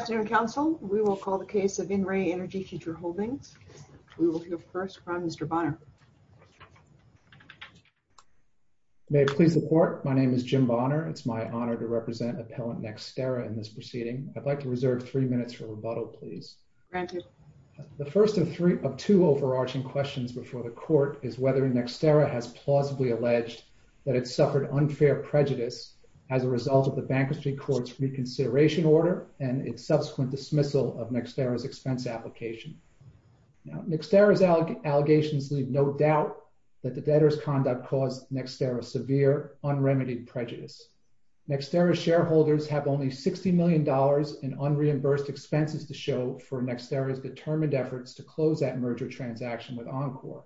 Good afternoon, Council. We will call the case of In Re Energy Future Holdings. We will hear first from Mr. Bonner. May it please the Court, my name is Jim Bonner. It's my honor to represent Appellant Nextera in this proceeding. I'd like to reserve three minutes for rebuttal, please. The first of two overarching questions before the Court is whether Nextera has plausibly alleged that it suffered unfair prejudice as a result of the Bank of St. Clair's reconsideration order and its subsequent dismissal of Nextera's expense application. Nextera's allegations leave no doubt that the debtor's conduct caused Nextera severe, unremitted prejudice. Nextera's shareholders have only $60 million in unreimbursed expenses to show for Nextera's determined efforts to close that merger transaction with Encore.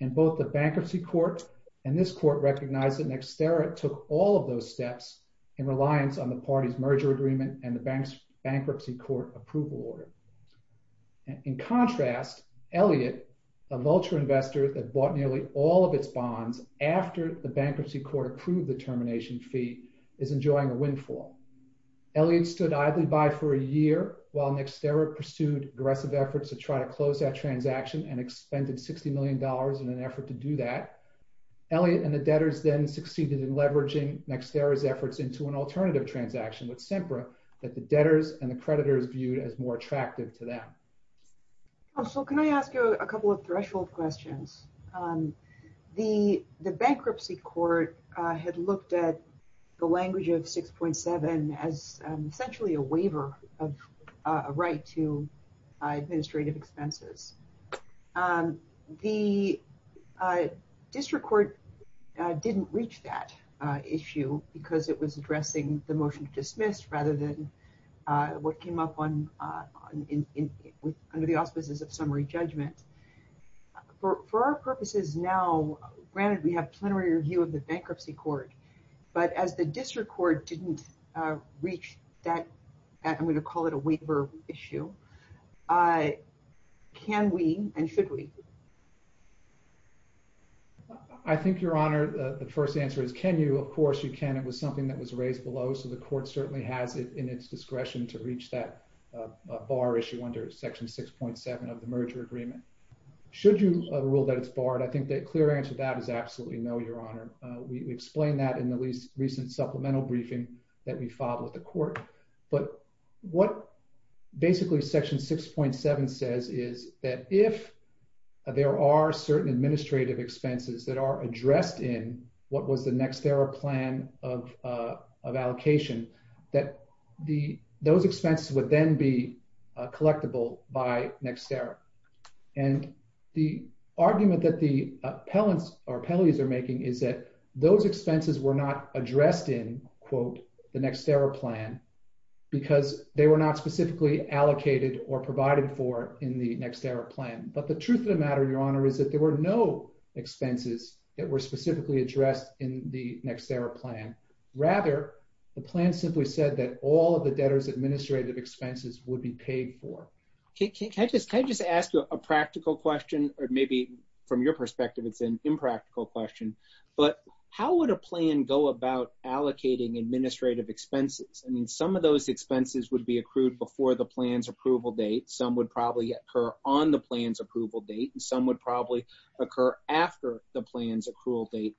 And both the Bankruptcy Court and this Court recognize that Nextera took all of those steps in reliance on the party's merger agreement and the Bankruptcy Court approval order. In contrast, Elliott, a vulture investor that bought nearly all of its bonds after the Bankruptcy Court approved the termination fee, is enjoying a windfall. Elliott stood idly by for a year while Nextera pursued aggressive efforts to try to close that transaction and expended $60 million in an effort to do that. Elliott and the debtors then succeeded in leveraging Nextera's efforts into an alternative transaction with SEMPRA that the debtors and the creditors viewed as more attractive to them. So can I ask you a couple of threshold questions? The Bankruptcy Court had looked at the language of 6.7 as essentially a waiver of a right to administrative expenses. The District Court didn't reach that issue because it was addressing the motion to dismiss rather than what came up under the offices of summary judgment. For our purposes now, granted we have plenary review of the Bankruptcy Court, but as the District Court didn't reach that, I'm going to call it a waiver issue, can we and should we? I think, Your Honor, the first answer is can you, of course you can, it was something that was raised below, so the Court certainly has it in its discretion to reach that bar issue under Section 6.7 of the merger agreement. Should you rule that it's barred, I think the clear answer to that is absolutely no, Your Honor. We explained that in the recent supplemental briefing that we filed with the Court. But what basically Section 6.7 says is that if there are certain administrative expenses that are addressed in what was the Nextera plan of allocation, that those expenses would then be collectible by Nextera. And the argument that the appellants or appellees are making is that those expenses were not addressed in, quote, the Nextera plan because they were not specifically allocated or provided for in the Nextera plan. But the truth of the matter, Your Honor, is that there were no expenses that were specifically addressed in the Nextera plan. Rather, the plan simply said that all of the debtors' administrative expenses would be paid for. Can I just ask you a practical question, or maybe from your perspective it's an impractical question, but how would a plan go about allocating administrative expenses? I mean, some of those expenses would be accrued before the plan's approval date, some would probably occur on the plan's approval date, and some would probably occur after the plan's approval date,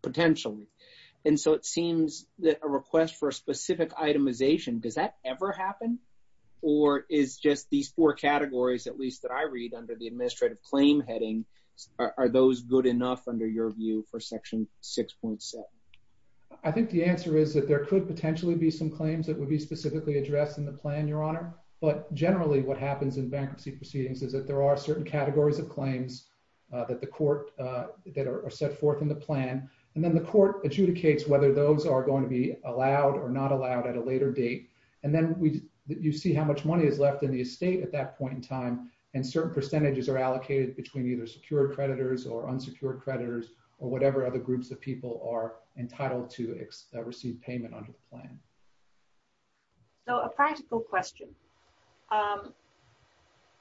potentially. And so it seems that a request for a specific itemization, does that ever happen? Or is just these four categories, at least that I read under the administrative claim heading, are those good enough under your view for Section 6.7? I think the answer is that there could potentially be some claims that would be specifically addressed in the plan, Your Honor. But generally what happens in bankruptcy proceedings is that there are certain categories of claims that the court, that are set forth in the plan, and then the court adjudicates whether those are going to be allowed or not allowed at a later date. And then you see how much money is left in the estate at that point in time, and certain percentages are allocated between either secure creditors or unsecured creditors or whatever other groups of people are entitled to receive payment under the plan. So a practical question,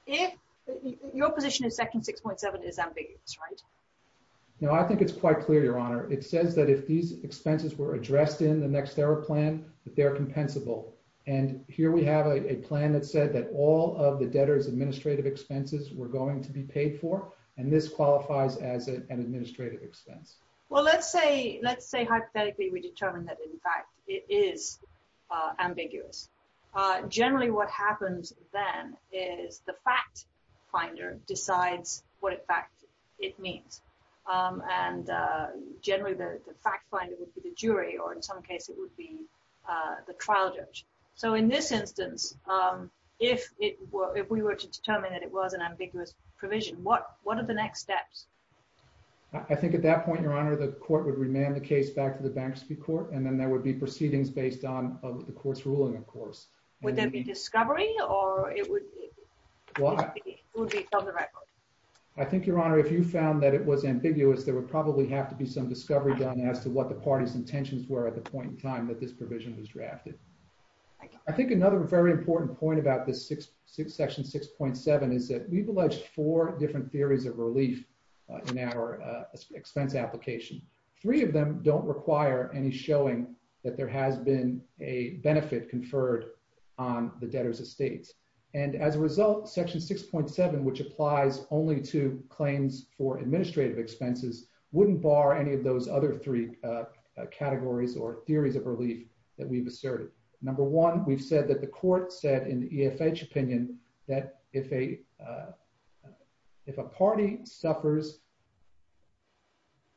if your position in Section 6.7 is ambiguous, right? No, I think it's quite clear, Your Honor. It says that if these expenses were addressed in the next error plan, that they are compensable. And here we have a plan that said that all of the debtor's administrative expenses were going to be paid for, and this qualifies as an administrative expense. Well, let's say hypothetically we determine that in fact it is ambiguous. Generally what happens then is the fact finder decides what in fact it means. And generally the fact finder would be the jury, or in some cases it would be the trial judge. So in this instance, if we were to determine that it was an ambiguous provision, what are the next steps? I think at that point, Your Honor, the court would remand the case back to the bankruptcy court, and then there would be proceedings based on the court's ruling, of course. Would there be discovery, or it would be public record? I think, Your Honor, if you found that it was ambiguous, there would probably have to be some discovery done as to what the party's intentions were at the point in time that this provision was drafted. I think another very important point about this Section 6.7 is that we've alleged four different theories of relief in our expense application. Three of them don't require any showing that there has been a benefit conferred on the debtor's estate. And as a result, Section 6.7, which applies only to claims for administrative expenses, wouldn't bar any of those other three categories or theories of relief that we've asserted. Number one, we've said that the court said in EFH opinion that if a party suffers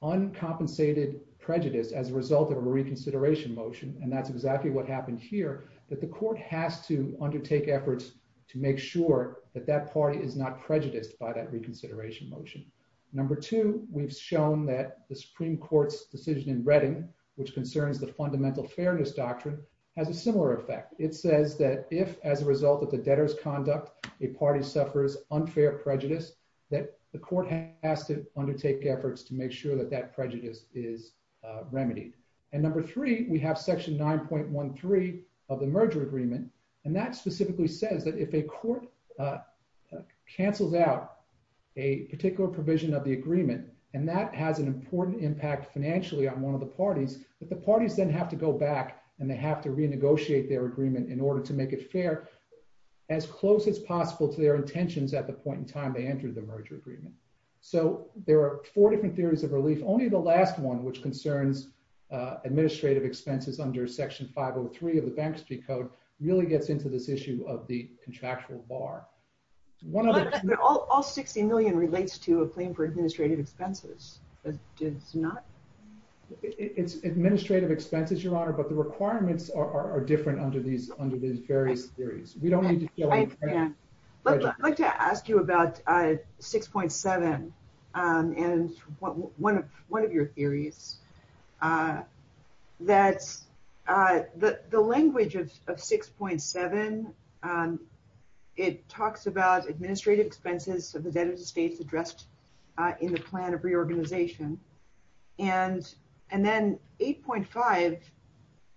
uncompensated prejudice as a result of a reconsideration motion, and that's exactly what happened here, that the court has to undertake efforts to make sure that that party is not prejudiced by that reconsideration motion. Number two, we've shown that the Supreme Court's decision in Redding, which concerns the fundamental fairness doctrine, has a similar effect. It says that if, as a result of the debtor's conduct, a party suffers unfair prejudice, that the court has to undertake efforts to make sure that that prejudice is remedied. And number three, we have Section 9.13 of the merger agreement, and that specifically says that if a court cancels out a particular provision of the agreement, and that has an important impact financially on one of the parties, that the parties then have to go back and they have to renegotiate their agreement in order to make it fair as close as possible to their intentions at the point in time they entered the merger agreement. So there are four different theories of relief. Only the last one, which concerns administrative expenses under Section 503 of the Bank Street Code, really gets into this issue of the contractual bar. All $60 million relates to a claim for administrative expenses. It does not? It's administrative expenses, Your Honor, but the requirements are different under these various theories. I'd like to ask you about 6.7 and one of your theories, that the language of 6.7, it talks about administrative expenses of the debtors' estate addressed in the plan of reorganization, and then 8.5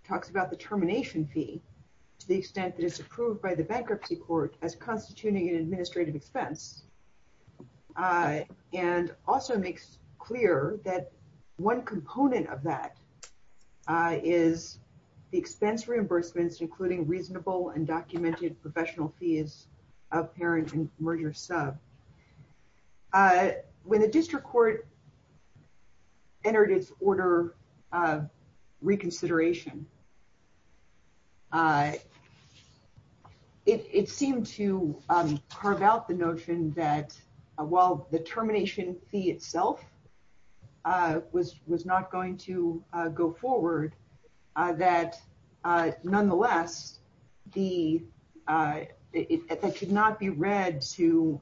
talks about the termination fee to the extent that it's approved by the bankruptcy court as constituting an administrative expense, and also makes clear that one component of that is the expense reimbursements including reasonable and documented professional fees of parent and merger sub. When a district court entered its order of reconsideration, it seemed to carve out the notion that while the termination fee itself was not going to go forward, that nonetheless, it should not be read to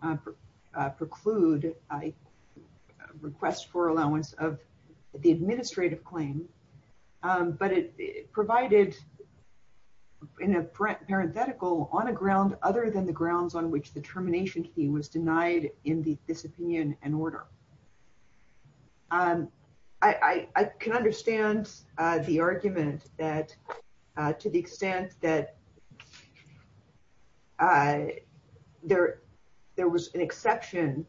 preclude a request for allowance of the administrative claim, but it provided in a parenthetical on a ground other than the grounds on which the termination fee was denied in this opinion and order. I can understand the argument that to the extent that there was an exception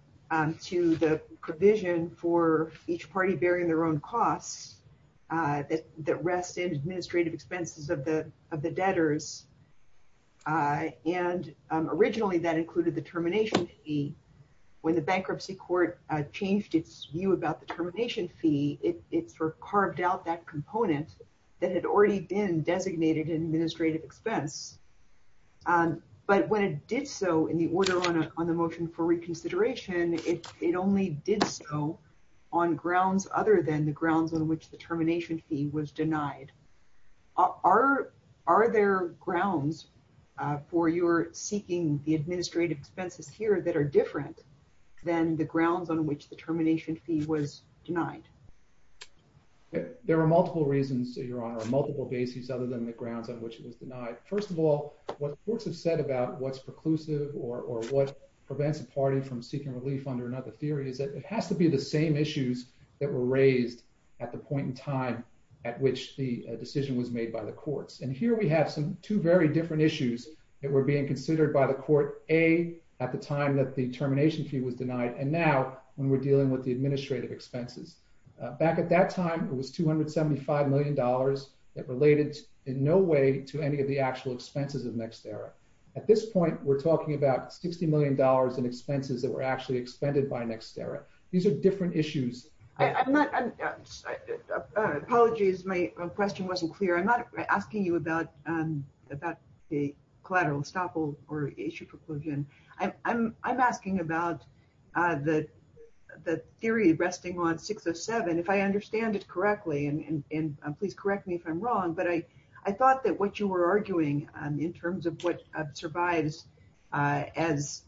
to the provision for each party bearing their own costs that rest in administrative expenses of the debtors, and originally that included the termination fee. When the bankruptcy court changed its view about the termination fee, it sort of carved out that component that had already been designated an administrative expense, but when it did so in the order on the motion for reconsideration, it only did so on grounds other than the grounds on which the termination fee was denied. Are there grounds for your seeking the administrative expenses here that are different than the grounds on which the termination fee was denied? There are multiple reasons, Your Honor, multiple bases other than the grounds on which it was denied. First of all, what courts have said about what's preclusive or what prevents a party from seeking relief under another theory is that it has to be the same issues that were raised at the point in time at which the decision was made by the courts. Here we have two very different issues that were being considered by the court, A, at the time that the termination fee was denied, and now when we're dealing with the administrative expenses. Back at that time, it was $275 million that related in no way to any of the actual expenses of NextEra. At this point, we're talking about $60 million in expenses that were actually expended by NextEra. These are different issues. Apologies, my question wasn't clear. I'm not asking you about the collateral estoppel or issue preclusion. I'm asking about the theory resting on 607. If I understand it correctly, and please correct me if I'm wrong, but I thought that what you were arguing in terms of what survives as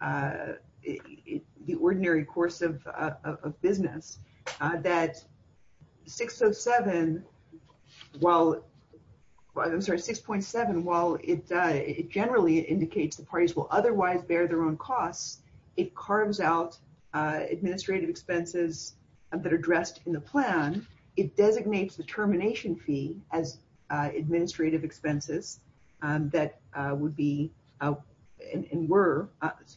the ordinary course of business, that 607, I'm sorry, 6.7, while it generally indicates the parties will otherwise bear their own costs, it carves out administrative expenses that are addressed in the plan. It designates the termination fee as administrative expenses that would be and were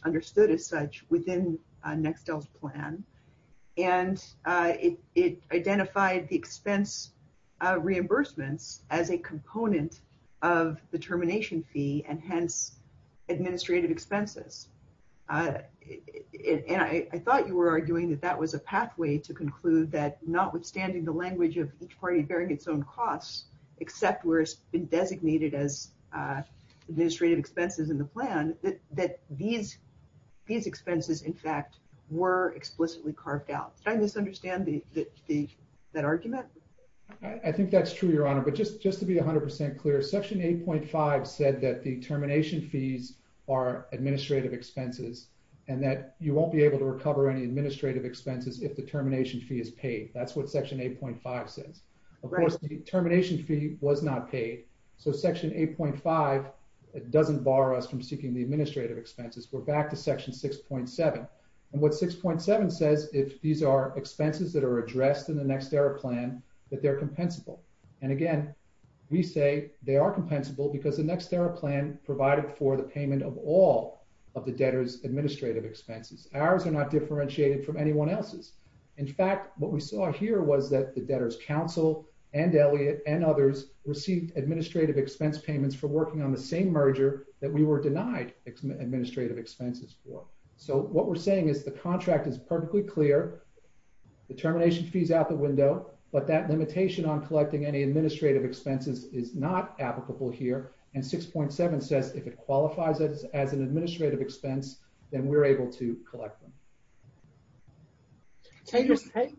understood as such within Nextel's plan. It identified the expense reimbursement as a component of the termination fee, and hence, administrative expenses. I thought you were arguing that that was a pathway to conclude that notwithstanding the language of each party bearing its own costs, except where it's been designated as administrative expenses in the plan, that these expenses, in fact, were explicitly carved out. Did I misunderstand that argument? I think that's true, Your Honor, but just to be 100% clear, Section 8.5 said that the termination fees are administrative expenses and that you won't be able to recover any administrative expenses if the termination fee is paid. That's what Section 8.5 said. Of course, the termination fee was not paid, so Section 8.5 doesn't bar us from seeking the administrative expenses. We're back to Section 6.7, and what 6.7 says is these are expenses that are addressed in the Next Era plan that they're compensable. Again, we say they are compensable because the Next Era plan provided for the payment of all of the debtors' administrative expenses. Ours are not differentiated from anyone else's. In fact, what we saw here was that the debtors' counsel and Elliot and others received administrative expense payments for working on the same merger that we were denied administrative expenses for. What we're saying is the contract is perfectly clear. The termination fee is out the window, but that limitation on collecting any administrative expenses is not applicable here, and 6.7 says if it qualifies it as an administrative expense, then we're able to collect them. I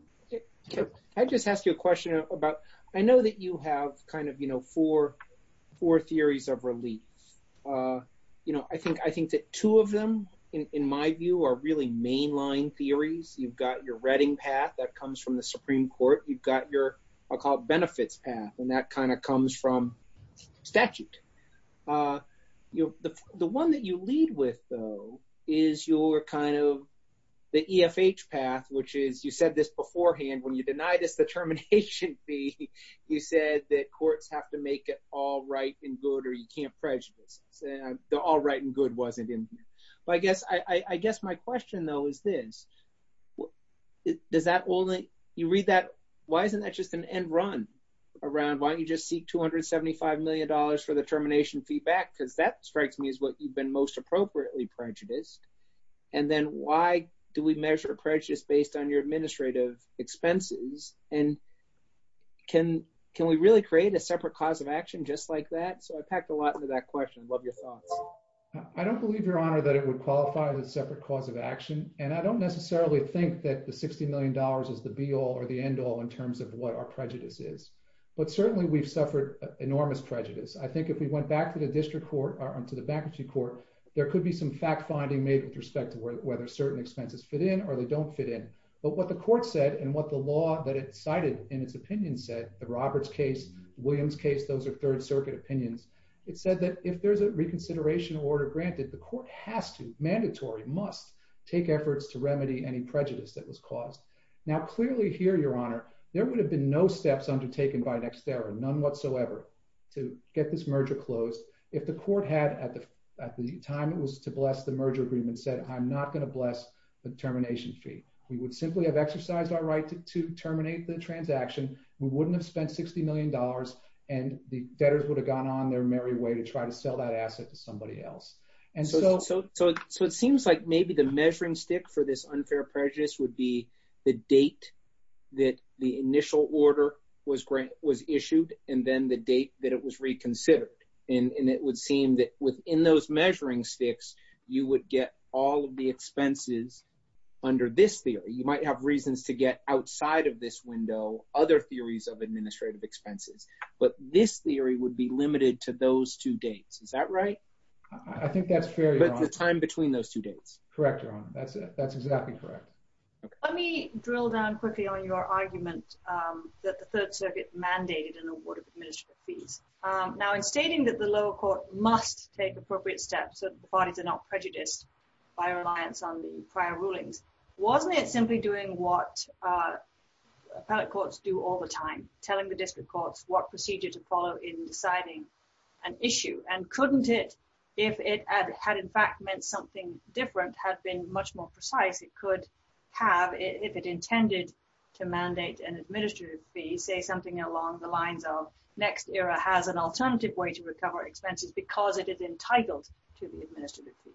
just asked you a question about – I know that you have kind of four theories of release. I think that two of them, in my view, are really mainline theories. You've got your reading path that comes from the Supreme Court. You've got your – I'll call it benefits path, and that kind of comes from statute. The one that you lead with, though, is your kind of – the EFH path, which is – you said this beforehand. When you denied us the termination fee, you said that courts have to make it all right and good or you can't prejudice. The all right and good wasn't in there. I guess my question, though, is this. You read that. Why isn't that just an end run around? Why don't you just seek $275 million for the termination fee back? Because that strikes me as what you've been most appropriately prejudiced. Then why do we measure prejudice based on your administrative expenses? Can we really create a separate cause of action just like that? I packed a lot into that question. Love your thought. I don't believe, Your Honor, that it would qualify as a separate cause of action, and I don't necessarily think that the $60 million is the be-all or the end-all in terms of what our prejudice is. But certainly, we've suffered enormous prejudice. I think if we went back to the district court or to the bankruptcy court, there could be some fact-finding made with respect to whether certain expenses fit in or they don't fit in. But what the court said and what the law that it cited in its opinion said, the Roberts case, Williams case, those are Third Circuit opinions, it said that if there's a reconsideration order granted, the court has to, mandatory, must take efforts to remedy any prejudice that was caused. Now, clearly here, Your Honor, there would have been no steps undertaken by Nexterra, none whatsoever, to get this merger closed. If the court had, at the time it was to bless the merger agreement, said, I'm not going to bless the termination fee. We would simply have exercised our right to terminate the transaction. We wouldn't have spent $60 million, and the debtors would have gone on their merry way to try to sell that asset to somebody else. So it seems like maybe the measuring stick for this unfair prejudice would be the date that the initial order was issued and then the date that it was reconsidered. And it would seem that within those measuring sticks, you would get all of the expenses under this theory. You might have reasons to get outside of this window other theories of administrative expenses. But this theory would be limited to those two dates. Is that right? I think that's fair, Your Honor. The time between those two dates. Correct, Your Honor. That's exactly correct. Let me drill down quickly on your argument that the Third Circuit mandated an award of administrative fees. Now, in stating that the lower court must take appropriate steps so that the parties are not prejudiced by a reliance on the prior rulings, wasn't it simply doing what appellate courts do all the time, telling the district courts what procedure to follow in deciding an issue? And couldn't it, if it had in fact meant something different, had been much more precise, it could have, if it intended to mandate an administrative fee, say something along the lines of next era has an alternative way to recover expenses because it is entitled to the administrative fee.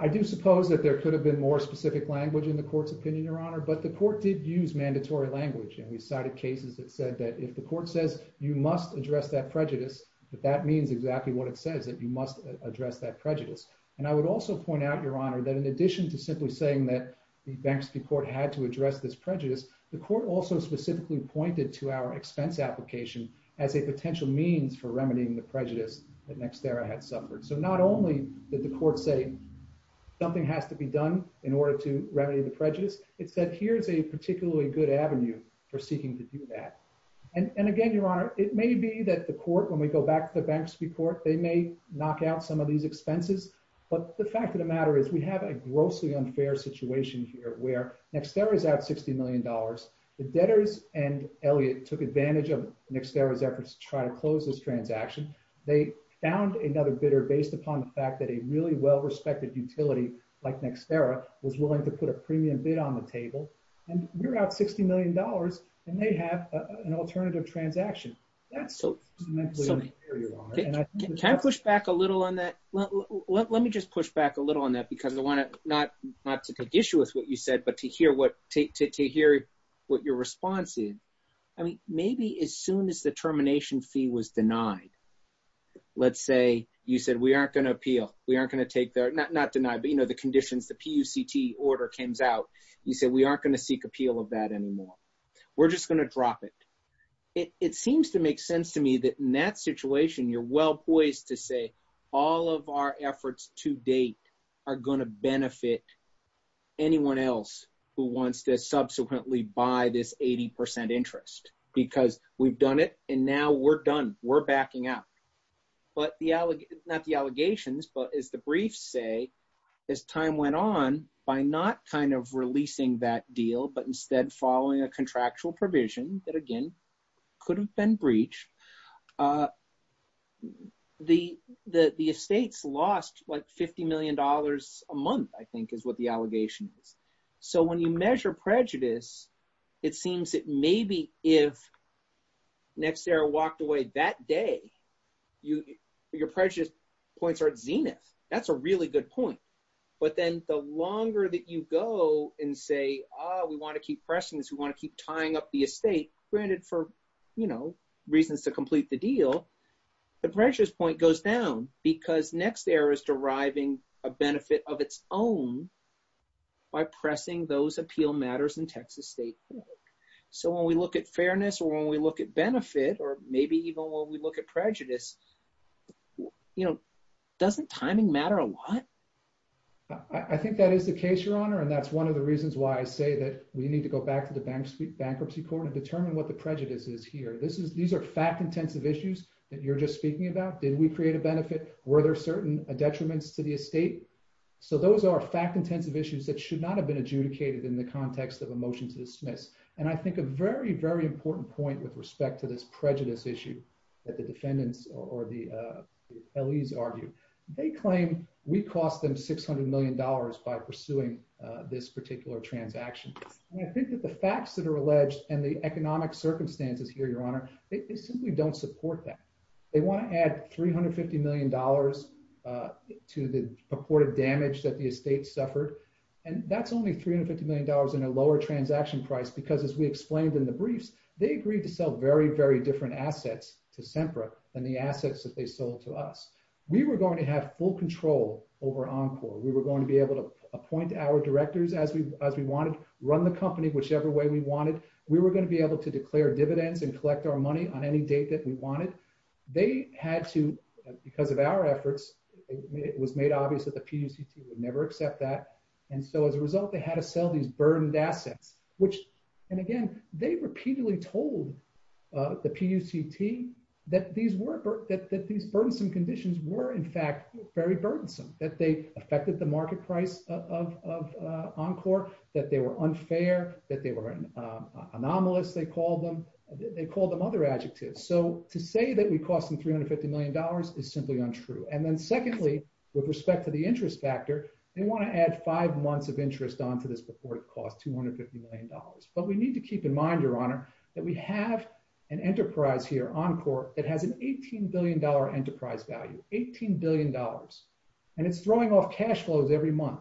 I do suppose that there could have been more specific language in the court's opinion, Your Honor, but the court did use mandatory language. And we've cited cases that said that if the court says you must address that prejudice, that that means exactly what it says, that you must address that prejudice. And I would also point out, Your Honor, that in addition to simply saying that the Banksy court had to address this prejudice, the court also specifically pointed to our expense application as a potential means for remedying the prejudice that next era had suffered. So not only did the court say something has to be done in order to remedy the prejudice, it said here's a particularly good avenue for seeking to do that. And again, Your Honor, it may be that the court, when we go back to the Banksy court, they may knock out some of these expenses. But the fact of the matter is we have a grossly unfair situation here where next era is at $60 million. The debtors and Elliott took advantage of next era's efforts to try to close this transaction. They found another bidder based upon the fact that a really well-respected utility like next era was willing to put a premium bid on the table. And we're at $60 million, and they have an alternative transaction. Can I push back a little on that? Let me just push back a little on that because I want to not take issue with what you said, but to hear what your response is. I mean, maybe as soon as the termination fee was denied, let's say you said we aren't going to appeal. We aren't going to take the, not denied, but you know, the conditions, the PUCT order came out. You said we aren't going to seek appeal of that anymore. We're just going to drop it. It seems to make sense to me that in that situation, you're well-poised to say all of our efforts to date are going to benefit anyone else who wants to subsequently buy this 80% interest. Because we've done it, and now we're done. We're backing out. Not the allegations, but as the briefs say, as time went on, by not kind of releasing that deal, but instead following a contractual provision that, again, could have been breached, the estates lost like $50 million a month, I think is what the allegation is. So when you measure prejudice, it seems that maybe if NextEra walked away that day, your prejudice points are at zenith. That's a really good point. But then the longer that you go and say, ah, we want to keep pressing this, we want to keep tying up the estate, granted for, you know, reasons to complete the deal, the prejudice point goes down, because NextEra is deriving a benefit of its own by pressing those appeal matters in Texas state court. So when we look at fairness or when we look at benefit or maybe even when we look at prejudice, you know, doesn't timing matter a lot? I think that is the case, Your Honor, and that's one of the reasons why I say that we need to go back to the bankruptcy court and determine what the prejudice is here. These are fact-intensive issues that you're just speaking about. Did we create a benefit? So those are fact-intensive issues that should not have been adjudicated in the context of a motion to dismiss. And I think a very, very important point with respect to this prejudice issue that the defendants or the LEs argue, they claim we cost them $600 million by pursuing this particular transaction. And I think that the facts that are alleged and the economic circumstances here, Your Honor, they simply don't support that. They want to add $350 million to the reported damage that the estate suffered. And that's only $350 million in a lower transaction price, because as we explained in the briefs, they agreed to sell very, very different assets to SEMPRA than the assets that they sold to us. We were going to have full control over Encore. We were going to be able to appoint our directors as we wanted, run the company whichever way we wanted. We were going to be able to declare dividends and collect our money on any date that we wanted. They had to, because of our efforts, it was made obvious that the PUCP would never accept that. And so as a result, they had to sell these burdened assets, which, and again, they repeatedly told the PUCP that these burdensome conditions were, in fact, very burdensome, that they affected the market price of Encore, that they were unfair, that they were anomalous, they called them, they called them other adjectives. So to say that we cost them $350 million is simply untrue. And then secondly, with respect to the interest factor, they want to add five months of interest on to this before it costs $250 million. But we need to keep in mind, Your Honor, that we have an enterprise here, Encore, that has an $18 billion enterprise value, $18 billion. And it's throwing off cash flows every month.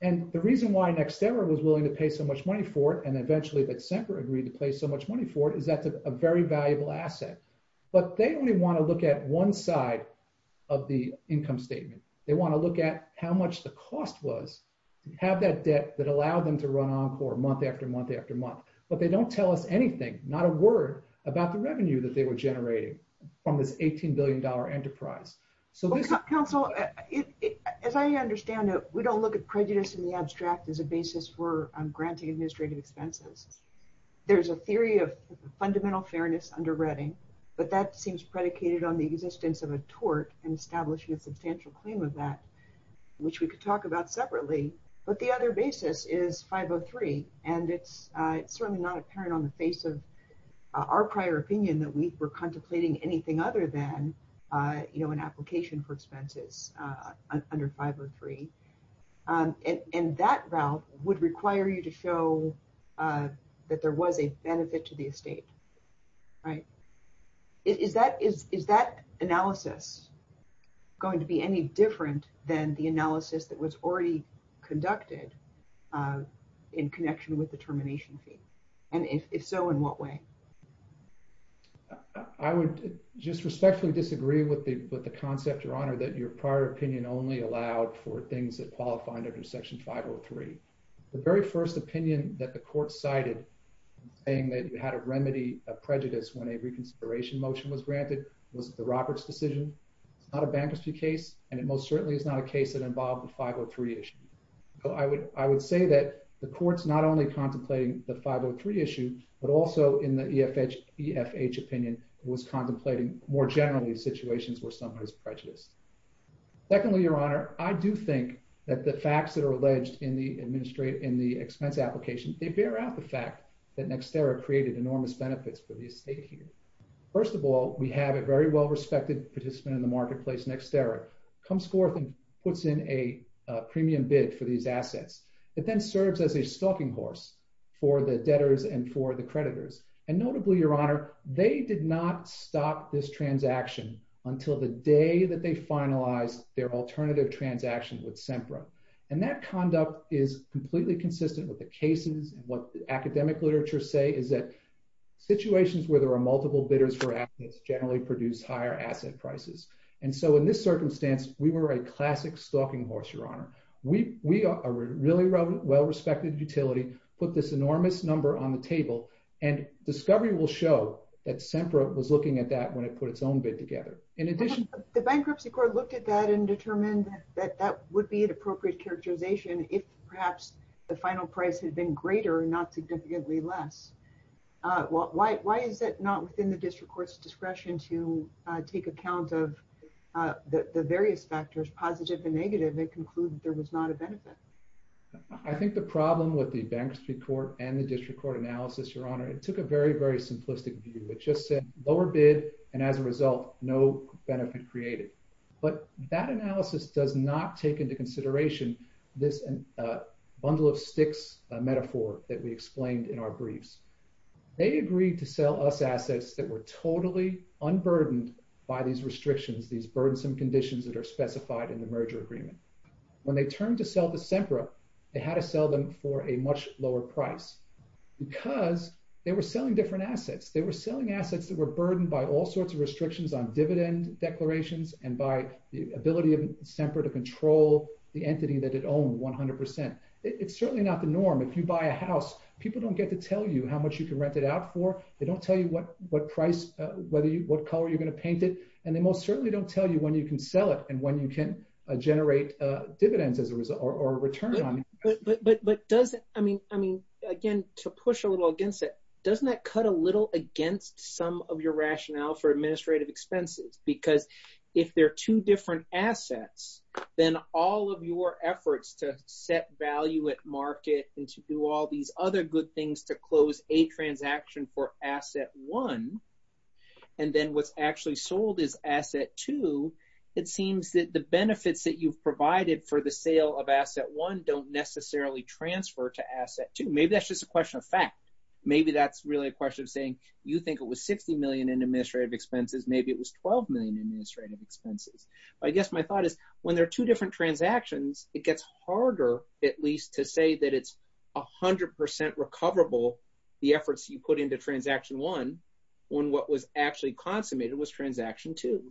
And the reason why NextEver was willing to pay so much money for it, and eventually that Semper agreed to pay so much money for it, is that it's a very valuable asset. But they only want to look at one side of the income statement. They want to look at how much the cost was, have that debt that allowed them to run Encore month after month after month. But they don't tell us anything, not a word, about the revenue that they were generating from this $18 billion enterprise. Counsel, as I understand it, we don't look at prejudice in the abstract as a basis for granting administrative expenses. There's a theory of fundamental fairness under Redding, but that seems predicated on the existence of a tort and establishing a substantial claim of that, which we could talk about separately. But the other basis is 503, and it's certainly not apparent on the face of our prior opinion that we were contemplating anything other than an application for expenses under 503. And that route would require you to show that there was a benefit to the estate. All right. Is that analysis going to be any different than the analysis that was already conducted in connection with the termination fee? And if so, in what way? I would just respectfully disagree with the concept, Your Honor, that your prior opinion only allowed for things that qualify under Section 503. The very first opinion that the court cited saying that you had a remedy of prejudice when a reconsideration motion was granted was the Roberts decision. It's not a bankruptcy case, and it most certainly is not a case that involved the 503 issue. So I would say that the court's not only contemplating the 503 issue, but also in the EFH opinion was contemplating more generally situations where someone is prejudiced. Secondly, Your Honor, I do think that the facts that are alleged in the expense application, they bear out the fact that Nextera created enormous benefits for the estate here. First of all, we have a very well-respected participant in the marketplace, Nextera, comes forth and puts in a premium bid for these assets. It then serves as a stalking horse for the debtors and for the creditors. And notably, Your Honor, they did not stop this transaction until the day that they finalized their alternative transaction with SEMPRA. And that conduct is completely consistent with the cases and what the academic literature say is that situations where there are multiple bidders for assets generally produce higher asset prices. And so in this circumstance, we were a classic stalking horse, Your Honor. We are a really well-respected utility, put this enormous number on the table, and discovery will show that SEMPRA was looking at that when it put its own bid together. In addition... The Bankruptcy Court looked at that and determined that that would be an appropriate characterization if perhaps the final price had been greater and not significantly less. Why is that not within the District Court's discretion to take account of the various factors, positive and negative, that conclude there was not a benefit? I think the problem with the Bankruptcy Court and the District Court analysis, Your Honor, it took a very, very simplistic view. It just said lower bid, and as a result, no benefit created. But that analysis does not take into consideration this bundle of sticks metaphor that we explained in our briefs. They agreed to sell us assets that were totally unburdened by these restrictions, these burdensome conditions that are specified in the merger agreement. When they turned to sell to SEMPRA, they had to sell them for a much lower price because they were selling different assets. They were selling assets that were burdened by all sorts of restrictions on dividend declarations and by the ability of SEMPRA to control the entity that it owned 100%. It's certainly not the norm. If you buy a house, people don't get to tell you how much you can rent it out for. They don't tell you what price, what color you're going to paint it, and they most certainly don't tell you when you can sell it and when you can generate dividends or returns on it. Again, to push a little against it, doesn't that cut a little against some of your rationale for administrative expenses? Because if they're two different assets, then all of your efforts to set value at market and to do all these other good things to close a transaction for asset one, and then what's actually sold is asset two, it seems that the benefits that you provided for the sale of asset one don't necessarily transfer to asset two. Maybe that's just a question of fact. Maybe that's really a question of saying you think it was $60 million in administrative expenses. Maybe it was $12 million in administrative expenses. I guess my thought is when there are two different transactions, it gets harder at least to say that it's 100% recoverable, the efforts you put into transaction one, when what was actually consummated was transaction two.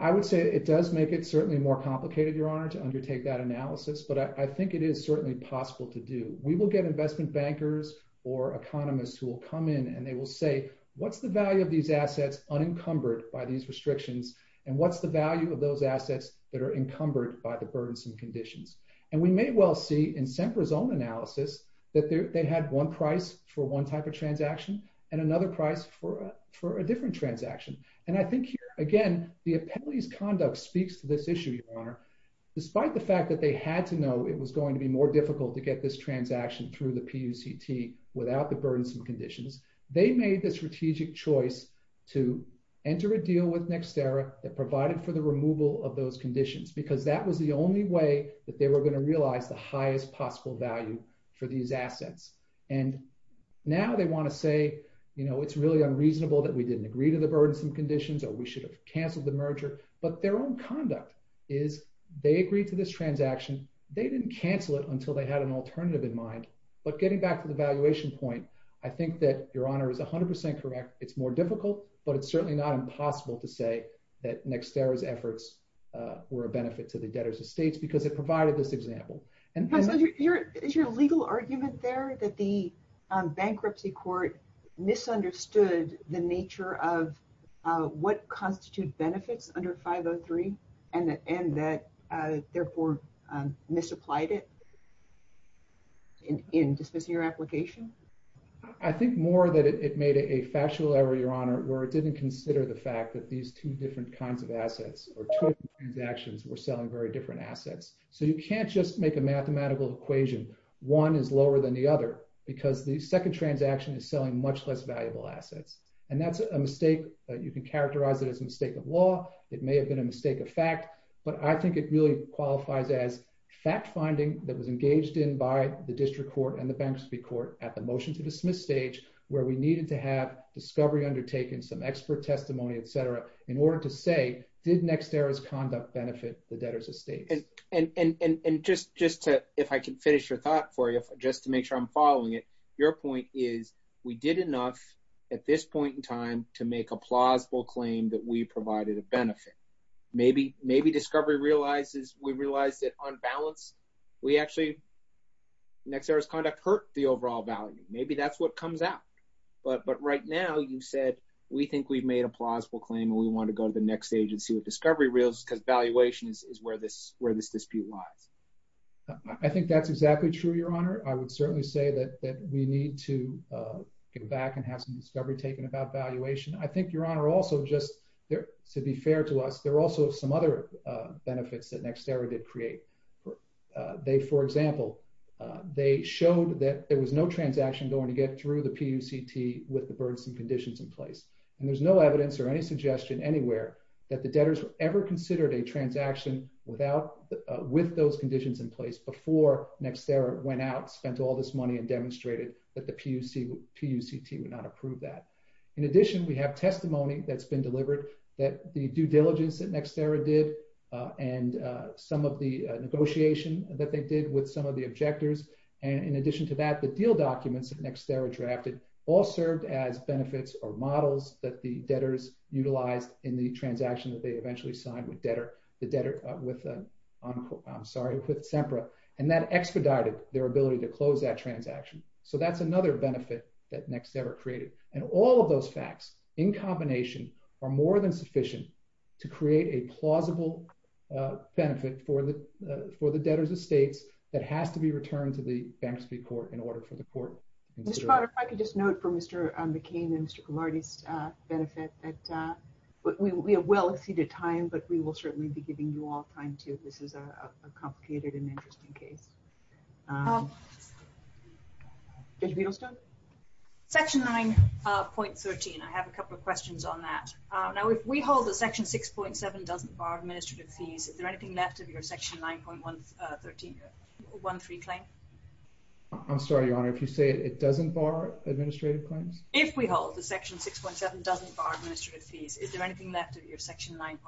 I would say it does make it certainly more complicated, Your Honor, to undertake that analysis, but I think it is certainly possible to do. We will get investment bankers or economists who will come in and they will say, what's the value of these assets unencumbered by these restrictions, and what's the value of those assets that are encumbered by the burdens and conditions? And we may well see in SEMPRA's own analysis that they had one price for one type of transaction and another price for a different transaction. And I think, again, the appellee's conduct speaks to this issue, Your Honor. Despite the fact that they had to know it was going to be more difficult to get this transaction through the PUCT without the burdens and conditions, they made the strategic choice to enter a deal with Nextera that provided for the removal of those conditions, because that was the only way that they were going to realize the highest possible value for these assets. And now they want to say, you know, it's really unreasonable that we didn't agree to the burdens and conditions or we should have canceled the merger. But their own conduct is they agreed to this transaction. They didn't cancel it until they had an alternative in mind. But getting back to the valuation point, I think that, Your Honor, is 100 percent correct. It's more difficult, but it's certainly not impossible to say that Nextera's efforts were a benefit to the debtors' estates because it provided this example. Is your legal argument there that the bankruptcy court misunderstood the nature of what constitutes benefits under 503 and that, therefore, misapplied it in disposing of your application? I think more that it made it a factual error, Your Honor, where it didn't consider the fact that these two different kinds of assets or total transactions were selling very different assets. So you can't just make a mathematical equation, one is lower than the other, because the second transaction is selling much less valuable assets. And that's a mistake. You can characterize it as a mistake of law. It may have been a mistake of fact. But I think it really qualifies as fact-finding that was engaged in by the district court and the bankruptcy court at the motion-to-dismiss stage, where we needed to have discovery undertaken, some expert testimony, et cetera, in order to say, did Nextera's conduct benefit the debtors' estates? And just to, if I can finish your thought for you, just to make sure I'm following it, your point is, we did enough at this point in time to make a plausible claim that we provided a benefit. Maybe discovery realizes, we realize that on balance, we actually, Nextera's conduct hurt the overall value. Maybe that's what comes out. But right now, you said, we think we've made a plausible claim and we want to go to the next stage and see what discovery reveals, because valuation is where this dispute lies. I think that's exactly true, Your Honor. I would certainly say that we need to get back and have some discovery taken about valuation. I think, Your Honor, also just to be fair to us, there are also some other benefits that Nextera did create. They, for example, they showed that there was no transaction going to get through the PUCT with the burdensome conditions in place. And there's no evidence or any suggestion anywhere that the debtors ever considered a transaction with those conditions in place before Nextera went out, spent all this money, and demonstrated that the PUCT would not approve that. In addition, we have testimony that's been delivered that the due diligence that Nextera did and some of the negotiation that they did with some of the objectors. And in addition to that, the deal documents that Nextera drafted all served as benefits or models that the debtors utilized in the transaction that they eventually signed with SEMPRA, and that expedited their ability to close that transaction. So that's another benefit that Nextera created. And all of those facts, in combination, are more than sufficient to create a plausible benefit for the debtors' estate that has to be returned to the families to be court in order for the court. Ms. Potter, if I could just note for Mr. McCain and Mr. Gilardi's benefit that we have well exceeded time, but we will certainly be giving you all time, too. This is a complicated and interesting case. Judge Biddlestone? Section 9.13, I have a couple of questions on that. Now, if we hold that Section 6.7 doesn't bar administrative fees, is there anything left of your Section 9.13 claim? I'm sorry, Your Honor, if you say it doesn't bar administrative claims? If we hold that Section 6.7 doesn't bar administrative fees, is there anything left of your Section 9.13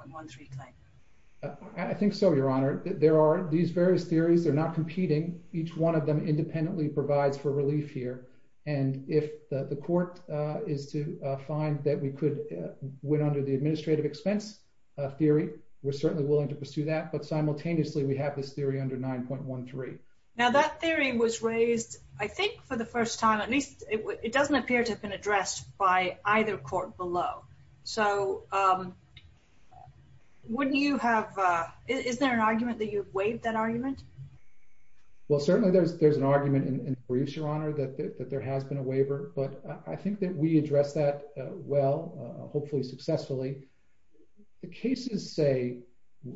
claim? I think so, Your Honor. There are these various theories. They're not competing. Each one of them independently provides for relief here. And if the court is to find that we could win under the administrative expense theory, we're certainly willing to pursue that. But simultaneously, we have this theory under 9.13. Now, that theory was raised, I think, for the first time. At least it doesn't appear to have been addressed by either court below. So wouldn't you have – is there an argument that you've waived that argument? Well, certainly there's an argument in briefs, Your Honor, that there has been a waiver. But I think that we addressed that well, hopefully successfully. The cases say –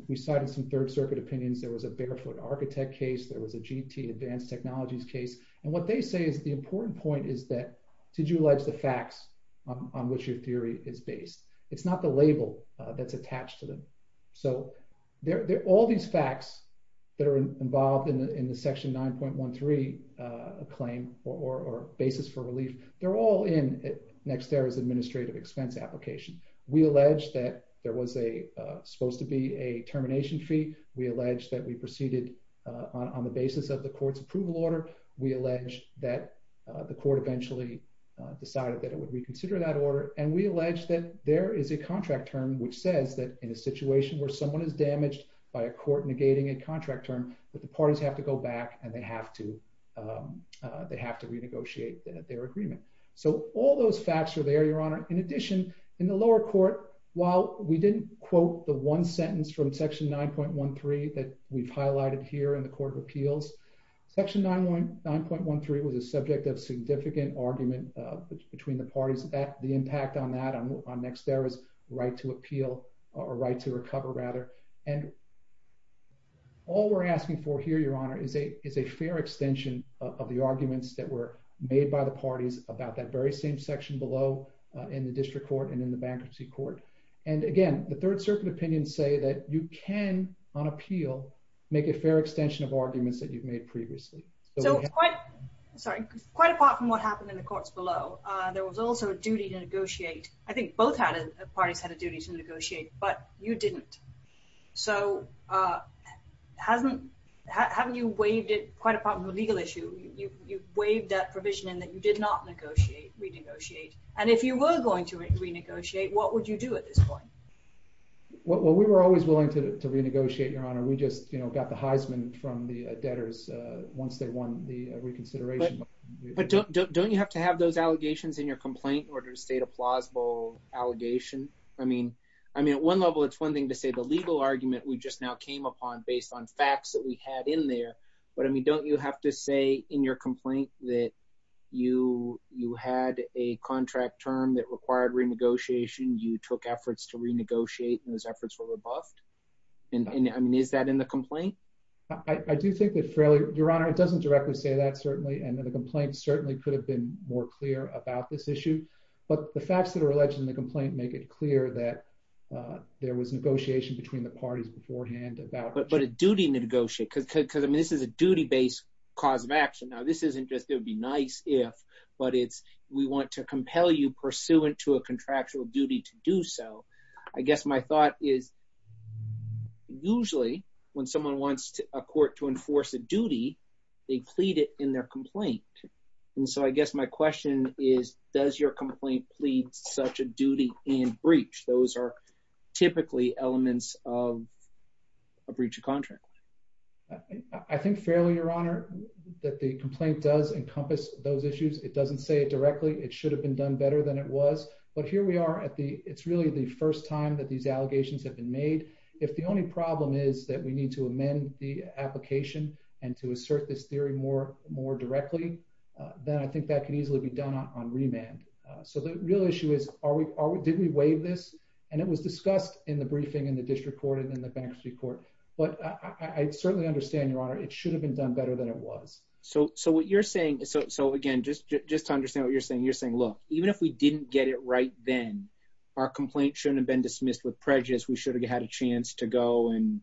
we cited some Third Circuit opinions. There was a Bigger Foot Architect case. There was a GT, Advanced Technologies case. And what they say is the important point is that did you allege the facts on which your theory is based? It's not the label that's attached to them. So all these facts that are involved in the Section 9.13 claim or basis for relief, they're all in Nexterra's administrative expense application. We allege that there was supposed to be a termination fee. We allege that we proceeded on the basis of the court's approval order. We allege that the court eventually decided that it would reconsider that order. And we allege that there is a contract term which says that in a situation where someone is damaged by a court negating a contract term, that the parties have to go back and they have to renegotiate their agreement. So all those facts are there, Your Honor. In addition, in the lower court, while we didn't quote the one sentence from Section 9.13 that we've highlighted here in the Court of Appeals, Section 9.13 was a subject of significant argument between the parties. The impact on that on Nexterra's right to appeal or right to recover, rather. And all we're asking for here, Your Honor, is a fair extension of the arguments that were made by the parties about that very same section below in the District Court and in the Bankruptcy Court. And again, the Third Circuit opinions say that you can, on appeal, make a fair extension of arguments that you've made previously. So quite apart from what happened in the courts below, there was also a duty to negotiate. I think both parties had a duty to negotiate, but you didn't. So having you waived it, quite apart from the legal issue, you waived that provision in that you did not negotiate, renegotiate. And if you were going to renegotiate, what would you do at this point? Well, we were always willing to renegotiate, Your Honor. We just got the Heisman from the debtors once they won the reconsideration. But don't you have to have those allegations in your complaint in order to state a plausible allegation? I mean, at one level, it's one thing to say the legal argument we just now came upon based on facts that we had in there. But, I mean, don't you have to say in your complaint that you had a contract term that required renegotiation, you took efforts to renegotiate, and those efforts were rebuffed? And, I mean, is that in the complaint? I do think it's fairly—Your Honor, it doesn't directly say that, certainly. And the complaint certainly could have been more clear about this issue. But the facts that are alleged in the complaint make it clear that there was negotiation between the parties beforehand about— But a duty to negotiate, because, I mean, this is a duty-based cause of action. Now, this isn't just it would be nice if, but it's we want to compel you pursuant to a contractual duty to do so. I guess my thought is usually when someone wants a court to enforce a duty, they plead it in their complaint. And so I guess my question is, does your complaint plead such a duty in breach? Those are typically elements of a breach of contract. I think fairly, Your Honor, that the complaint does encompass those issues. It doesn't say it directly. It should have been done better than it was. But here we are at the—It's really the first time that these allegations have been made. If the only problem is that we need to amend the application and to assert this theory more directly, then I think that could easily be done on remand. So the real issue is, did we waive this? And it was discussed in the briefing in the district court and in the bankruptcy court. But I certainly understand, Your Honor, it should have been done better than it was. So what you're saying—So, again, just to understand what you're saying, you're saying, look, even if we didn't get it right then, our complaint shouldn't have been dismissed with prejudice. We should have had a chance to go and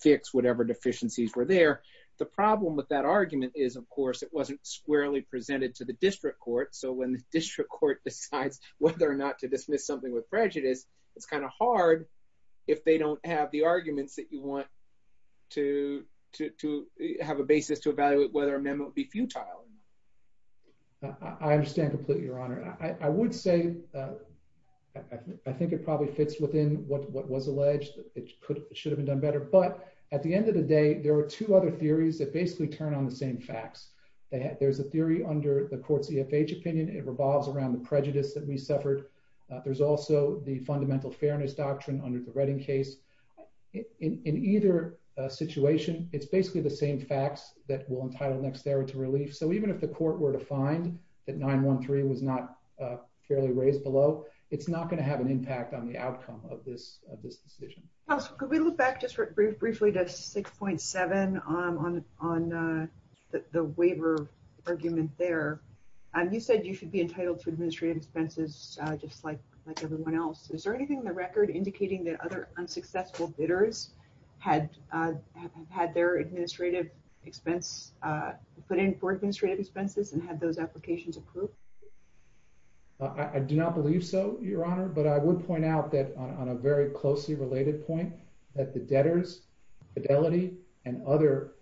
fix whatever deficiencies were there. The problem with that argument is, of course, it wasn't squarely presented to the district court. So when the district court decides whether or not to dismiss something with prejudice, it's kind of hard if they don't have the arguments that you want to have a basis to evaluate whether a memo would be futile. I understand completely, Your Honor. I would say—I think it probably fits within what was alleged. It should have been done better. But at the end of the day, there are two other theories that basically turn on the same facts. There's a theory under the court's EFH opinion. It revolves around the prejudice that we suffered. There's also the fundamental fairness doctrine under the Redding case. In either situation, it's basically the same facts that will entitle Nextera to relief. So even if the court were to find that 913 was not fairly raised below, it's not going to have an impact on the outcome of this decision. Counsel, could we look back just briefly to 6.7 on the waiver argument there? You said you should be entitled to administrative expenses just like everyone else. Is there anything in the record indicating that other unsuccessful bidders had their administrative expense put in for administrative expenses and had those applications approved? I do not believe so, Your Honor. But I would point out that on a very closely related point, that the debtors, Fidelity, and other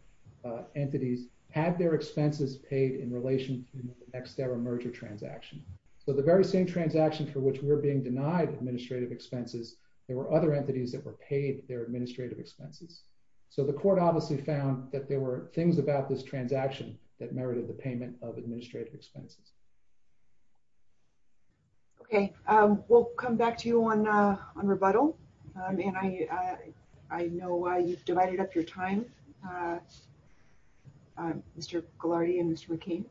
entities had their expenses paid in relation to the Nextera merger transaction. So the very same transaction for which we're being denied administrative expenses, there were other entities that were paid their administrative expenses. So the court obviously found that there were things about this transaction that merited the payment of administrative expenses. Okay. We'll come back to you on rebuttal. And I know I just divided up your time, Mr. Ghilardi and Mr. McKee.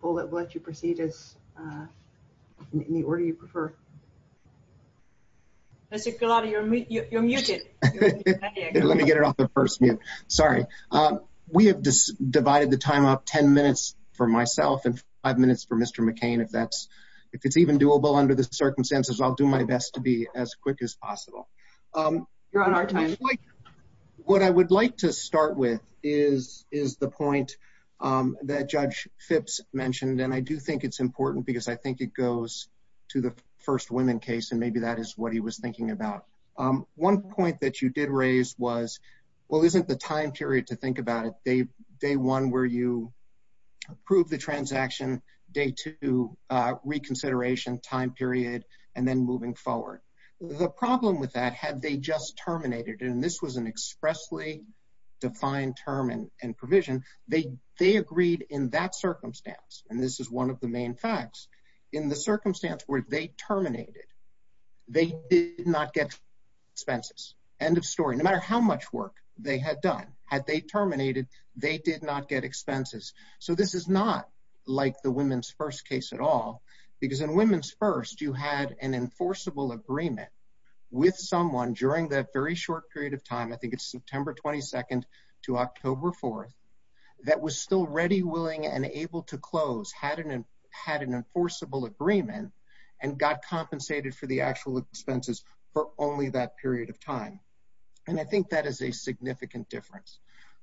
We'll let you proceed in the order you prefer. Mr. Ghilardi, you're muted. Let me get it off the first mute. Sorry. We have divided the time up 10 minutes for myself and five minutes for Mr. McCain. If it's even doable under the circumstances, I'll do my best to be as quick as possible. What I would like to start with is the point that Judge Phipps mentioned. And I do think it's important because I think it goes to the first women case, and maybe that is what he was thinking about. One point that you did raise was, well, isn't the time period, to think about it, day one where you approve the transaction, day two, reconsideration time period, and then moving forward. The problem with that, had they just terminated, and this was an expressly defined term and provision, they agreed in that circumstance, and this is one of the main facts, in the circumstance where they terminated, they did not get expenses. End of story. No matter how much work they had done, had they terminated, they did not get expenses. So this is not like the women's first case at all, because in women's first, you had an enforceable agreement with someone during that very short period of time, I think it's September 22nd to October 4th, that was still ready, willing, and able to close, had an enforceable agreement, and got compensated for the actual expenses for only that period of time. And I think that is a significant difference.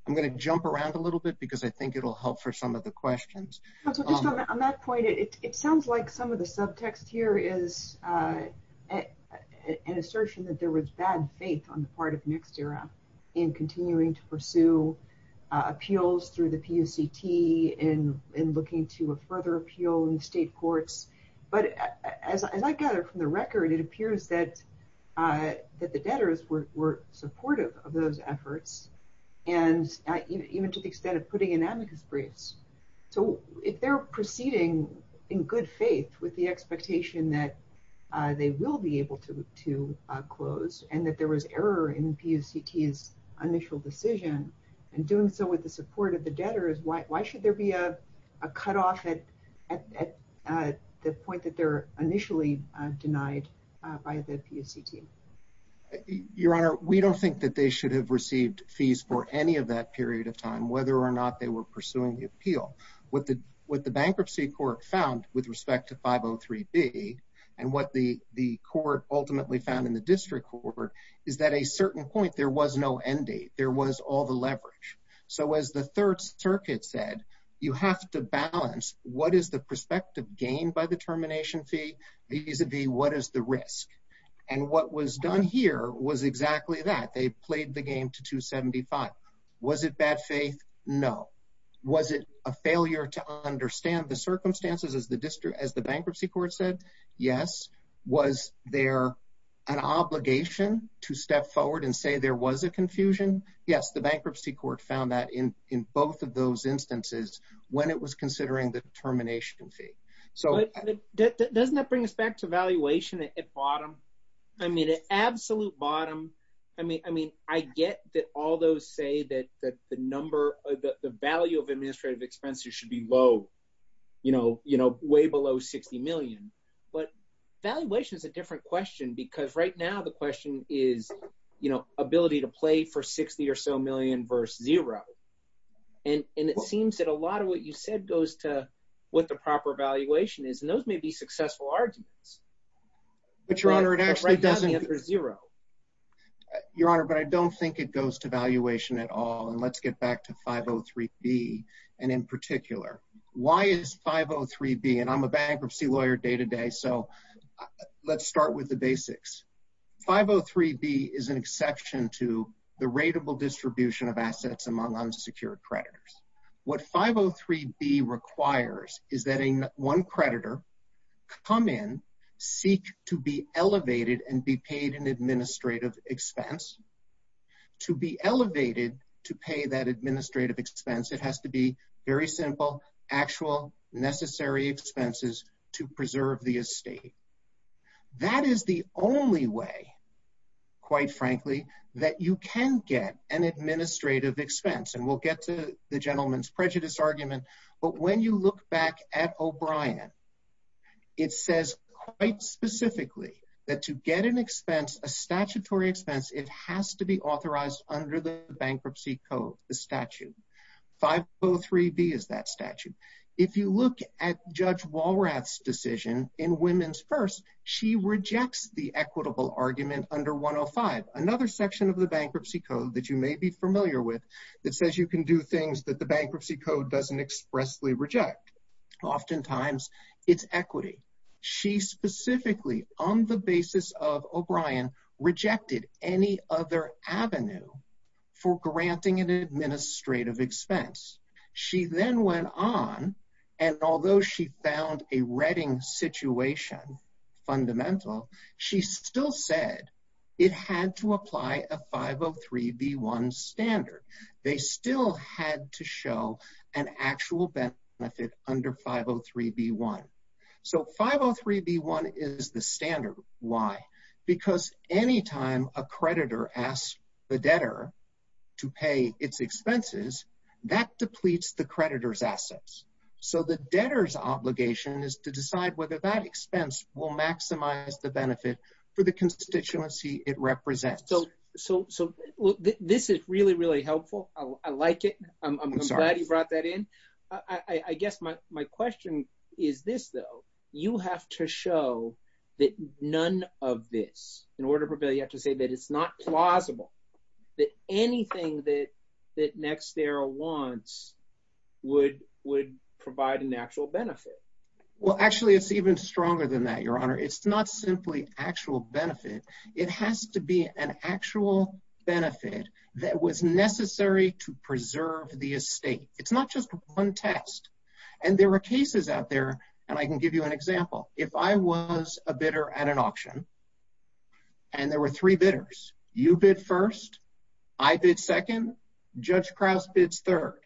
I'm going to jump around a little bit because I think it will help for some of the questions. On that point, it sounds like some of the subtext here is an assertion that there was bad faith on the part of NextEra in continuing to pursue appeals through the PUCT and looking to a further appeal in state courts, but as I gather from the record, it appears that the debtors were supportive of those efforts and even to the extent of putting in amicus briefs. So if they're proceeding in good faith with the expectation that they will be able to close and that there was error in PUCT's initial decision, and doing so with the support of the debtors, why should there be a cutoff at the point that they're initially denied by the PUCT? Your Honor, we don't think that they should have received fees for any of that period of time, whether or not they were pursuing the appeal. What the bankruptcy court found with respect to 503B and what the court ultimately found in the district court is that at a certain point, there was no end date. There was all the leverage. So as the Third Circuit said, you have to balance what is the perspective gained by the termination fee vis-a-vis what is the risk. And what was done here was exactly that. They played the game to 275. Was it bad faith? No. Was it a failure to understand the circumstances as the bankruptcy court said? Yes. Was there an obligation to step forward and say there was a confusion? Yes. The bankruptcy court found that in both of those instances when it was considering the termination fee. Doesn't that bring us back to valuation at bottom? I mean, at absolute bottom. I mean, I get that all those say that the number of the value of administrative expenses should be low, you know, way below 60 million. But valuation is a different question because right now the question is, you know, ability to play for 60 or so million versus zero. And it seems that a lot of what you said goes to what the proper valuation is, and those may be successful arguments. But, Your Honor, it actually doesn't answer zero. Your Honor, but I don't think it goes to valuation at all. And let's get back to 503B and in particular. Why is 503B? And I'm a bankruptcy lawyer day to day. So let's start with the basics. 503B is an exception to the rateable distribution of assets among unsecured creditors. What 503B requires is that one creditor come in, seek to be elevated and be paid an administrative expense. To be elevated to pay that administrative expense, it has to be very simple, actual necessary expenses to preserve the estate. That is the only way, quite frankly, that you can get an administrative expense. And we'll get to the gentleman's prejudice argument. But when you look back at O'Brien, it says quite specifically that to get an expense, a statutory expense, it has to be authorized under the Bankruptcy Code, the statute. 503B is that statute. If you look at Judge Walrath's decision in Women's First, she rejects the equitable argument under 105. Another section of the Bankruptcy Code that you may be familiar with that says you can do things that the Bankruptcy Code doesn't expressly reject. Oftentimes, it's equity. She specifically, on the basis of O'Brien, rejected any other avenue for granting an administrative expense. She then went on, and although she found a reading situation fundamental, she still said it had to apply a 503B1 standard. They still had to show an actual benefit under 503B1. So 503B1 is the standard. Why? Because any time a creditor asks the debtor to pay its expenses, that depletes the creditor's assets. So the debtor's obligation is to decide whether that expense will maximize the benefit for the constituency it represents. So this is really, really helpful. I like it. I'm glad you brought that in. I guess my question is this, though. You have to show that none of this, in order for Bill, you have to say that it's not plausible, that anything that NextEra wants would provide an actual benefit. Well, actually, it's even stronger than that, Your Honor. It's not simply actual benefit. It has to be an actual benefit that was necessary to preserve the estate. It's not just one test. And there were cases out there, and I can give you an example. If I was a bidder at an auction, and there were three bidders. You bid first, I bid second, Judge Krause bids third.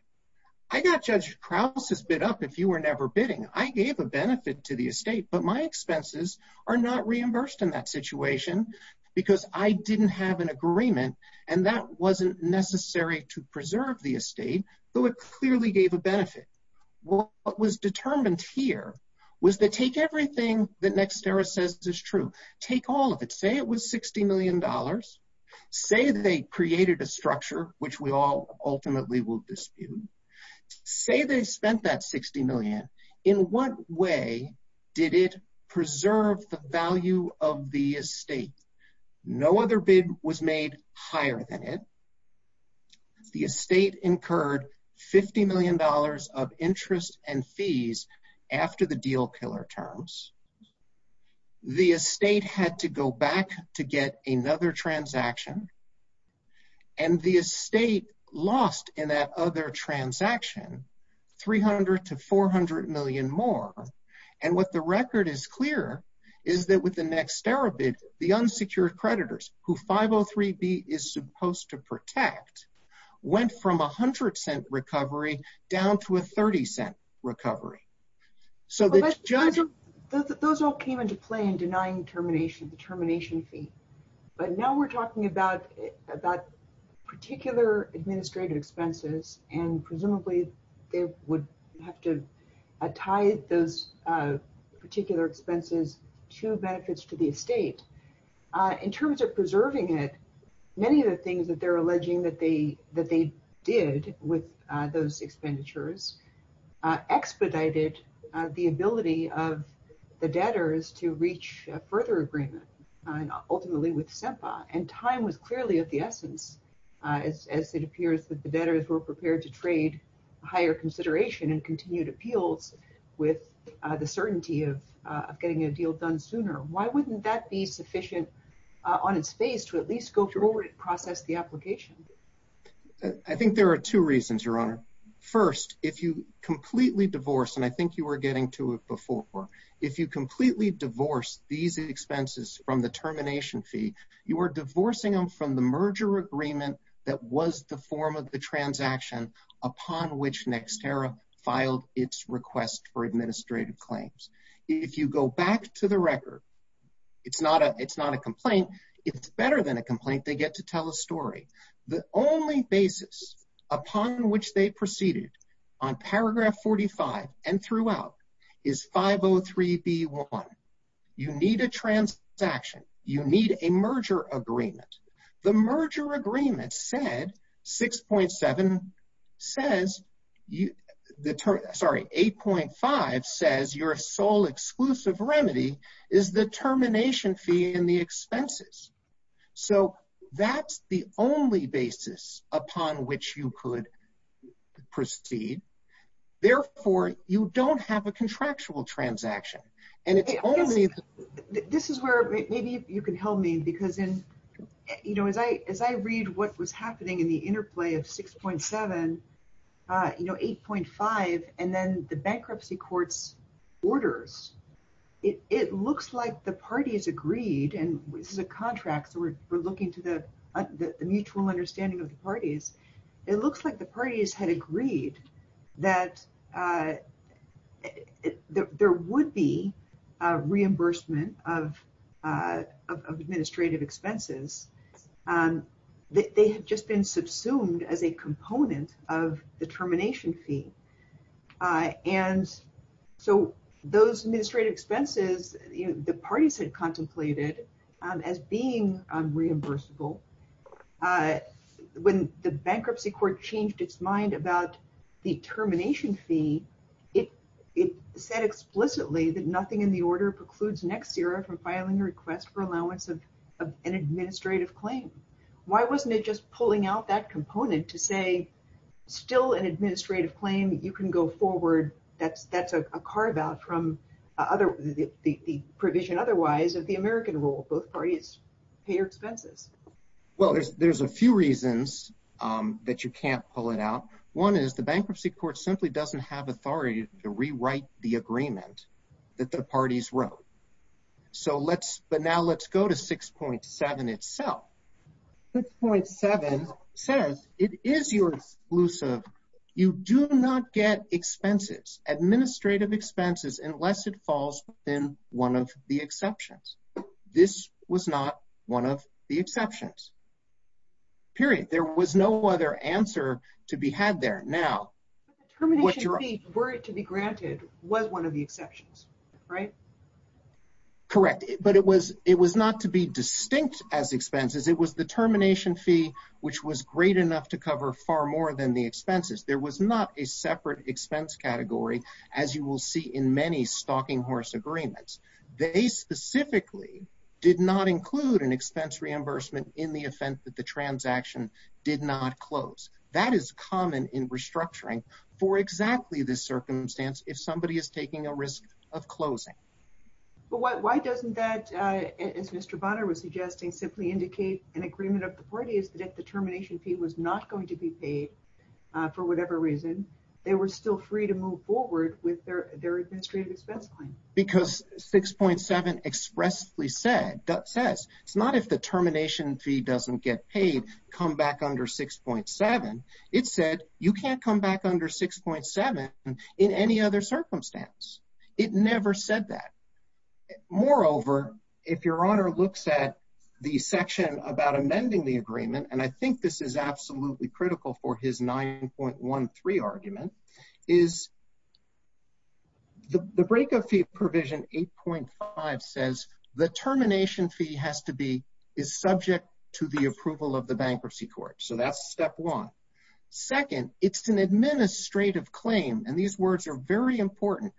I got Judge Krause's bid up if you were never bidding. I gave a benefit to the estate, but my expenses are not reimbursed in that situation, because I didn't have an agreement, and that wasn't necessary to preserve the estate. So, if I was a bidder at an auction, and I bid second, Judge Krause bids third, and I gave a benefit to the estate, but my expenses are not reimbursed in that situation, because I didn't have an agreement, and that wasn't necessary to preserve the estate. The estate incurred $50 million of interest and fees after the deal killer terms. The estate had to go back to get another transaction. And the estate lost in that other transaction $300 to $400 million more. And what the record is clear is that with the next tariff bid, the unsecured creditors, who 503B is supposed to protect, went from a $0.10 recovery down to a $0.30 recovery. Those all came into play in denying the termination fee, but now we're talking about particular administrative expenses, and presumably they would have to tie those particular expenses to benefits to the estate. In terms of preserving it, many of the things that they're alleging that they did with those expenditures expedited the ability of the debtors to reach a further agreement, and ultimately with SEMPA. And time was clearly of the essence, as it appears that the debtors were prepared to trade higher consideration and continued appeals with the certainty of getting a deal done sooner. Why wouldn't that be sufficient on its face to at least go forward and process the application? I think there are two reasons, Your Honor. First, if you completely divorce, and I think you were getting to it before, if you completely divorce these expenses from the termination fee, you are divorcing them from the merger agreement that was the form of the transaction upon which NextEra filed its request for administrative claims. If you go back to the record, it's not a complaint. It's better than a complaint. They get to tell a story. The only basis upon which they proceeded on paragraph 45 and throughout is 503B1. You need a transaction. You need a merger agreement. The merger agreement said, 6.7 says, sorry, 8.5 says your sole exclusive remedy is the termination fee and the expenses. So that's the only basis upon which you could proceed. Therefore, you don't have a contractual transaction. And if they only… Your Honor, maybe you can help me, because as I read what was happening in the interplay of 6.7, 8.5, and then the bankruptcy court's orders, it looks like the parties agreed, and this is a contract, so we're looking to the mutual understanding of the parties. It looks like the parties had agreed that there would be reimbursement of administrative expenses. They had just been subsumed as a component of the termination fee. And so those administrative expenses, the parties had contemplated as being reimbursable. When the bankruptcy court changed its mind about the termination fee, it said explicitly that nothing in the order precludes next era from filing a request for allowance of an administrative claim. Why wasn't it just pulling out that component to say, still an administrative claim, you can go forward, that's a carve out from the provision otherwise of the American rule. Both parties pay your expenses. Well, there's a few reasons that you can't pull it out. One is the bankruptcy court simply doesn't have authority to rewrite the agreement that the parties wrote. So let's – but now let's go to 6.7 itself. 6.7 says it is your exclusive. You do not get expenses, administrative expenses, unless it falls within one of the exceptions. This was not one of the exceptions. Period. There was no other answer to be had there. Now – The termination fee, were it to be granted, was one of the exceptions, right? Correct. But it was not to be distinct as expenses. It was the termination fee, which was great enough to cover far more than the expenses. There was not a separate expense category, as you will see in many stalking horse agreements. They specifically did not include an expense reimbursement in the offense that the transaction did not close. That is common in restructuring for exactly this circumstance if somebody is taking a risk of closing. But why doesn't that, as Mr. Bonner was suggesting, simply indicate an agreement of the parties that if the termination fee was not going to be paid for whatever reason, they were still free to move forward with their administrative expense claim? Because 6.7 expressly said – says it's not if the termination fee doesn't get paid, come back under 6.7. It said you can't come back under 6.7 in any other circumstance. It never said that. Moreover, if Your Honor looks at the section about amending the agreement – and I think this is absolutely critical for his 9.13 argument – is the breakup fee provision 8.5 says the termination fee has to be – is subject to the approval of the bankruptcy court. So that's step one. Second, it's an administrative claim, and these words are very important,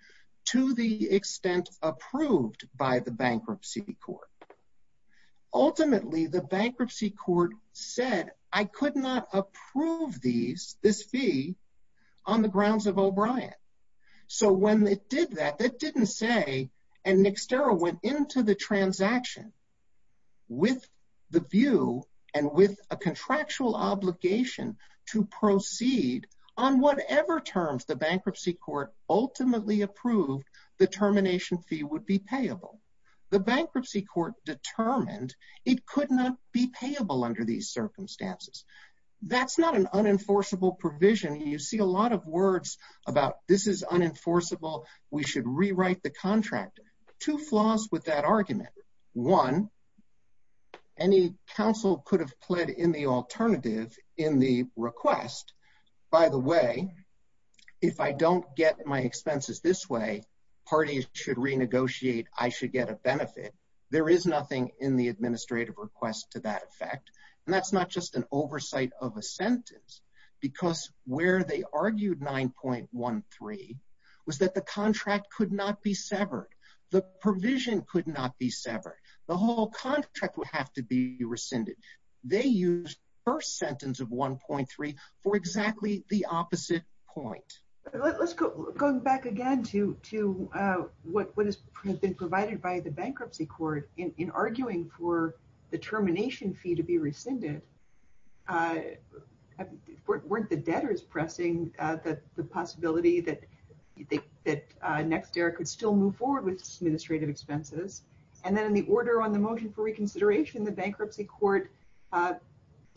to the extent approved by the bankruptcy court. Ultimately, the bankruptcy court said I could not approve these – this fee on the grounds of O'Brien. So when it did that, that didn't say – and Nixtero went into the transaction with the view and with a contractual obligation to proceed on whatever terms the bankruptcy court ultimately approved the termination fee would be payable. The bankruptcy court determined it could not be payable under these circumstances. That's not an unenforceable provision. You see a lot of words about this is unenforceable, we should rewrite the contract. Two flaws with that argument. One, any counsel could have pled in the alternative in the request. By the way, if I don't get my expenses this way, parties should renegotiate, I should get a benefit. There is nothing in the administrative request to that effect. And that's not just an oversight of a sentence, because where they argued 9.13 was that the contract could not be severed. The provision could not be severed. The whole contract would have to be rescinded. They used the first sentence of 1.3 for exactly the opposite point. Let's go back again to what has been provided by the bankruptcy court in arguing for the termination fee to be rescinded. The bankruptcy court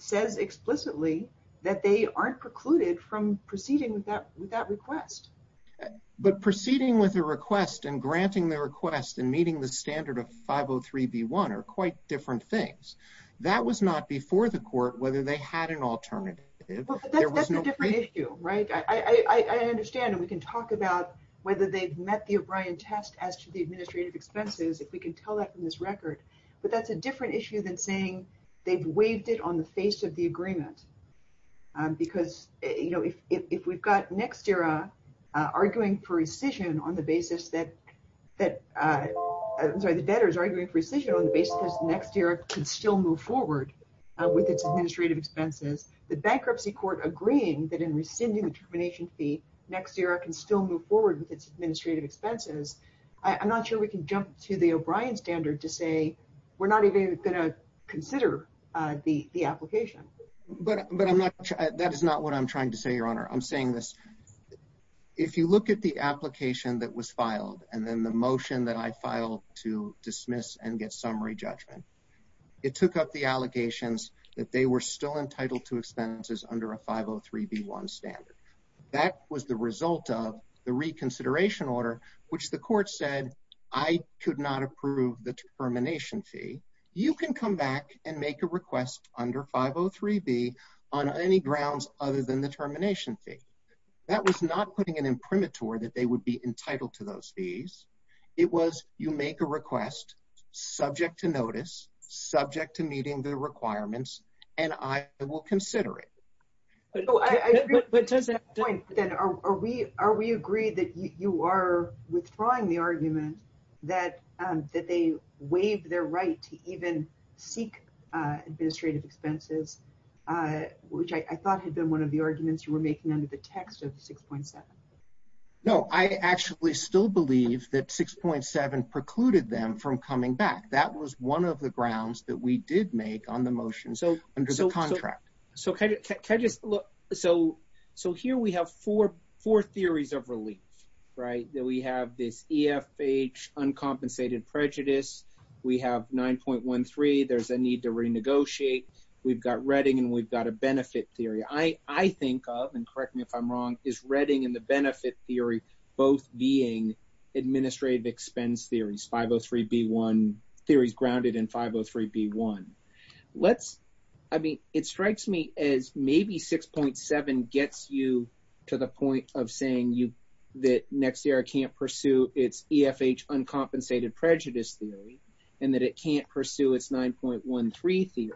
said explicitly that they aren't precluded from proceeding with that request. But proceeding with the request and granting the request and meeting the standard of 503B1 are quite different things. That was not before the court whether they had an alternative. That's a different issue. I understand and we can talk about whether they've met the O'Brien test as to the administrative expenses if we can tell that from this record. But that's a different issue than saying they've waived it on the face of the agreement. Because if we've got NextERA arguing for rescission on the basis that NextERA can still move forward with its administrative expenses, the bankruptcy court agreeing that in rescinding the termination fee, NextERA can still move forward with its administrative expenses, I'm not sure we can jump to the O'Brien standard to say we're not even going to consider the application. That is not what I'm trying to say, Your Honor. I'm saying this. If you look at the application that was filed and then the motion that I filed to dismiss and get summary judgment, it took up the allegations that they were still entitled to expenses under a 503B1 standard. That was the result of the reconsideration order, which the court said, I could not approve the termination fee. You can come back and make a request under 503B on any grounds other than the termination fee. That was not putting an imprimatur that they would be entitled to those fees. It was you make a request, subject to notice, subject to meeting the requirements, and I will consider it. Are we agreed that you are withdrawing the argument that they waived their right to even seek administrative expenses, which I thought had been one of the arguments you were making under the text of 6.7? No, I actually still believe that 6.7 precluded them from coming back. That was one of the grounds that we did make on the motions under the contract. Here we have four theories of relief. We have this EFH, uncompensated prejudice. We have 9.13, there's a need to renegotiate. We've got Redding and we've got a benefit theory. I think, and correct me if I'm wrong, is Redding and the benefit theory both being administrative expense theories, 503B1, theories grounded in 503B1. It strikes me as maybe 6.7 gets you to the point of saying that NextERA can't pursue its EFH, uncompensated prejudice theory and that it can't pursue its 9.13 theory.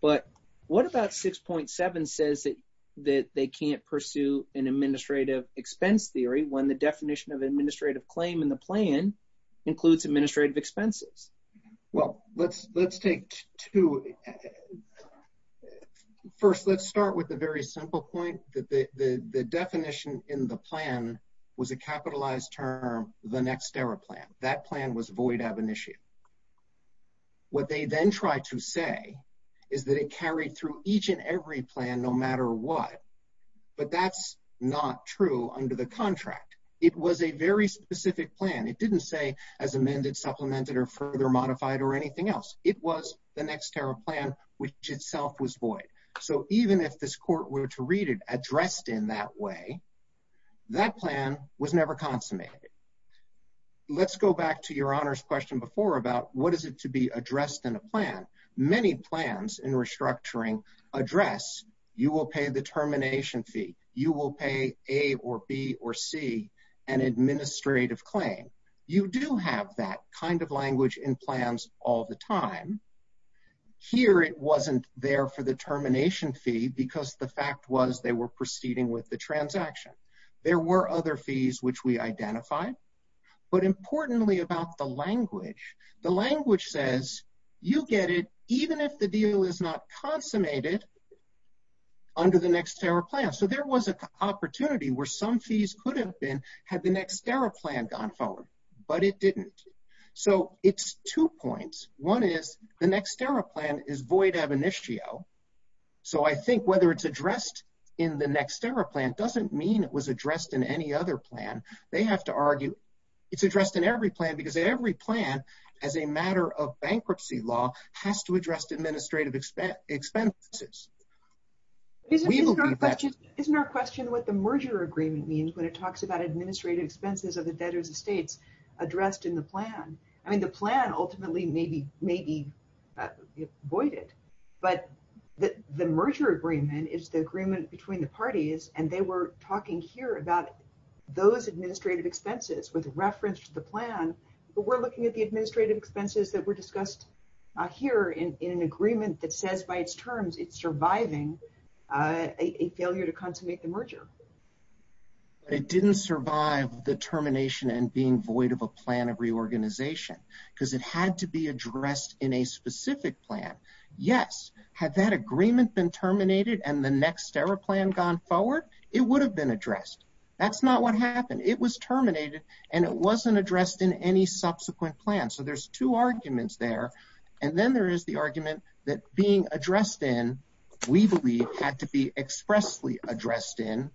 But what about 6.7 says that they can't pursue an administrative expense theory when the definition of administrative claim in the plan includes administrative expenses? Well, let's take two. First, let's start with a very simple point that the definition in the plan was a capitalized term, the NextERA plan. That plan was void of initiative. What they then tried to say is that it carried through each and every plan, no matter what. But that's not true under the contract. It was a very specific plan. It didn't say as amended, supplemented, or further modified, or anything else. It was the NextERA plan, which itself was void. So even if this court were to read it addressed in that way, that plan was never consummated. Let's go back to Your Honor's question before about what is it to be addressed in a plan. Many plans in restructuring address, you will pay the termination fee, you will pay A or B or C, an administrative claim. You do have that kind of language in plans all the time. Here it wasn't there for the termination fee because the fact was they were proceeding with the transaction. There were other fees which we identified. But importantly about the language, the language says you get it even if the deal is not consummated under the NextERA plan. So there was an opportunity where some fees could have been had the NextERA plan gone forward, but it didn't. So it's two points. One is the NextERA plan is void of initiative. So I think whether it's addressed in the NextERA plan doesn't mean it was addressed in any other plan. They have to argue it's addressed in every plan because in every plan, as a matter of bankruptcy law, has to address administrative expenses. Isn't our question what the merger agreement means when it talks about administrative expenses of the debtors' estates addressed in the plan? I mean the plan ultimately may be voided. But the merger agreement is the agreement between the parties and they were talking here about those administrative expenses with reference to the plan. But we're looking at the administrative expenses that were discussed here in an agreement that says by its terms it's surviving a failure to consummate the merger. It didn't survive the termination and being void of a plan of reorganization because it had to be addressed in a specific plan. Yes, had that agreement been terminated and the NextERA plan gone forward, it would have been addressed. That's not what happened. It was terminated and it wasn't addressed in any subsequent plan. So there's two arguments there. And then there is the argument that being addressed in, we believe, had to be expressly addressed in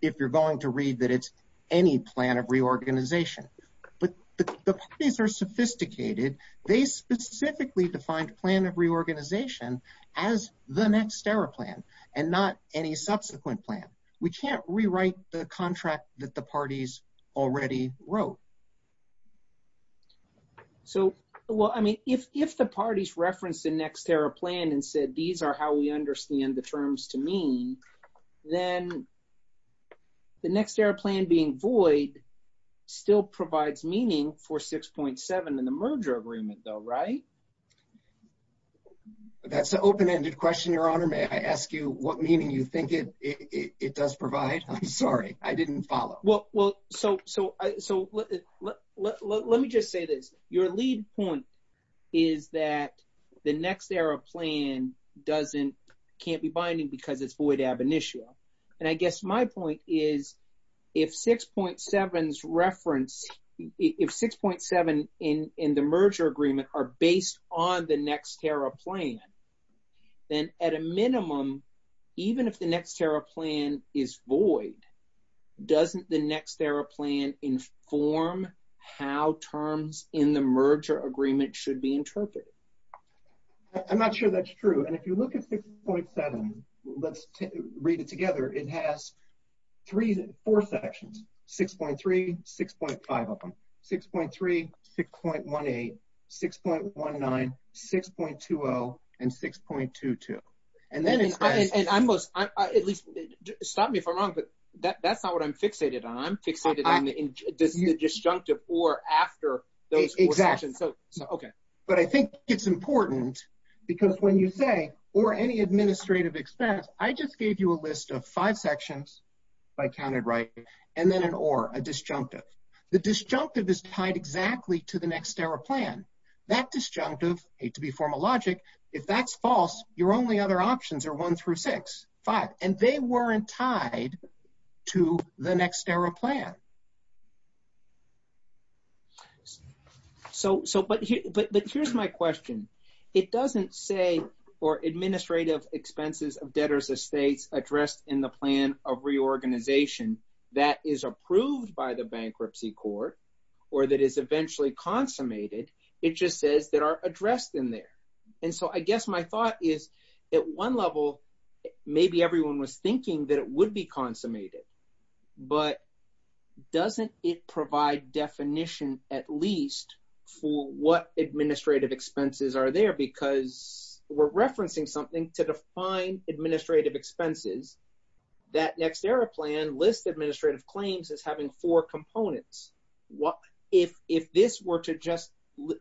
if you're going to read that it's any plan of reorganization. But the parties are sophisticated. They specifically defined plan of reorganization as the NextERA plan and not any subsequent plan. We can't rewrite the contract that the parties already wrote. So, well, I mean, if the parties referenced the NextERA plan and said, these are how we understand the terms to mean, then the NextERA plan being void still provides meaning for 6.7 in the merger agreement though, right? That's an open-ended question, Your Honor. May I ask you what meaning you think it does provide? I'm sorry, I didn't follow. Well, so let me just say this. Your lead point is that the NextERA plan can't be binding because it's void ab initio. And I guess my point is, if 6.7 in the merger agreement are based on the NextERA plan, then at a minimum, even if the NextERA plan is void, doesn't the NextERA plan inform how terms in the merger agreement should be interpreted? I'm not sure that's true. And if you look at 6.7, let's read it together, it has four sections, 6.3, 6.5 of them, 6.3, 6.18, 6.19, 6.20, and 6.22. Stop me if I'm wrong, but that's not what I'm fixated on. I'm fixated on the disjunctive or after those four sections. But I think it's important because when you say or any administrative expense, I just gave you a list of five sections, if I counted right, and then an or, a disjunctive. The disjunctive is tied exactly to the NextERA plan. That disjunctive, hate to be formal logic, if that's false, your only other options are one through six, five, and they weren't tied to the NextERA plan. So, but here's my question. It doesn't say for administrative expenses of debtors' estates addressed in the plan of reorganization that is approved by the bankruptcy court or that is eventually consummated, it just says that are addressed in there. And so I guess my thought is at one level, maybe everyone was thinking that it would be consummated, but doesn't it provide definition at least for what administrative expenses are there because we're referencing something to define administrative expenses. That NextERA plan lists administrative claims as having four components. If this were to just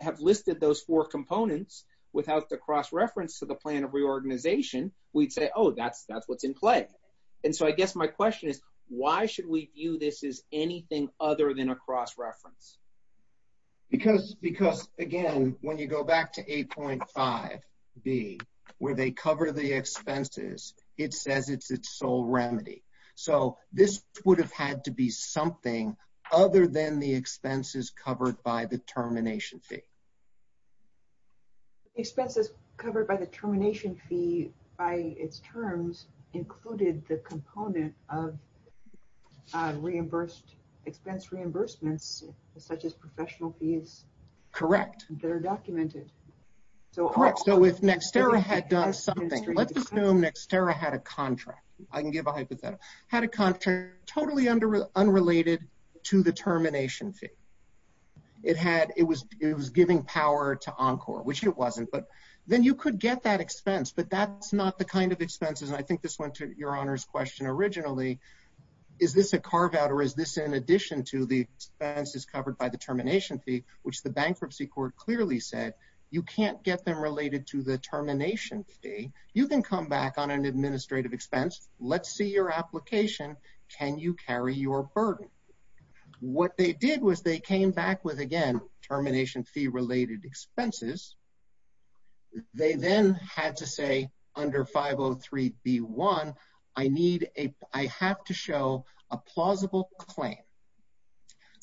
have listed those four components without the cross-reference to the plan of reorganization, we'd say, oh, that's what's in play. And so I guess my question is, why should we view this as anything other than a cross-reference? Because, again, when you go back to 8.5b, where they cover the expenses, it says it's its sole remedy. So this would have had to be something other than the expenses covered by the termination fee. Expenses covered by the termination fee by its terms included the component of expense reimbursements such as professional fees. Correct. That are documented. Correct. So if NextERA had done something, let's assume NextERA had a contract. I can give a hypothetical. Had a contract totally unrelated to the termination fee. It was giving power to Encore, which it wasn't. But then you could get that expense, but that's not the kind of expenses. I think this went to your Honor's question originally. Is this a carve out or is this in addition to the expenses covered by the termination fee, which the Bankruptcy Court clearly said you can't get them related to the termination fee. You can come back on an administrative expense. Let's see your application. Can you carry your burden? What they did was they came back with, again, termination fee related expenses. They then had to say under 503b1, I have to show a plausible claim.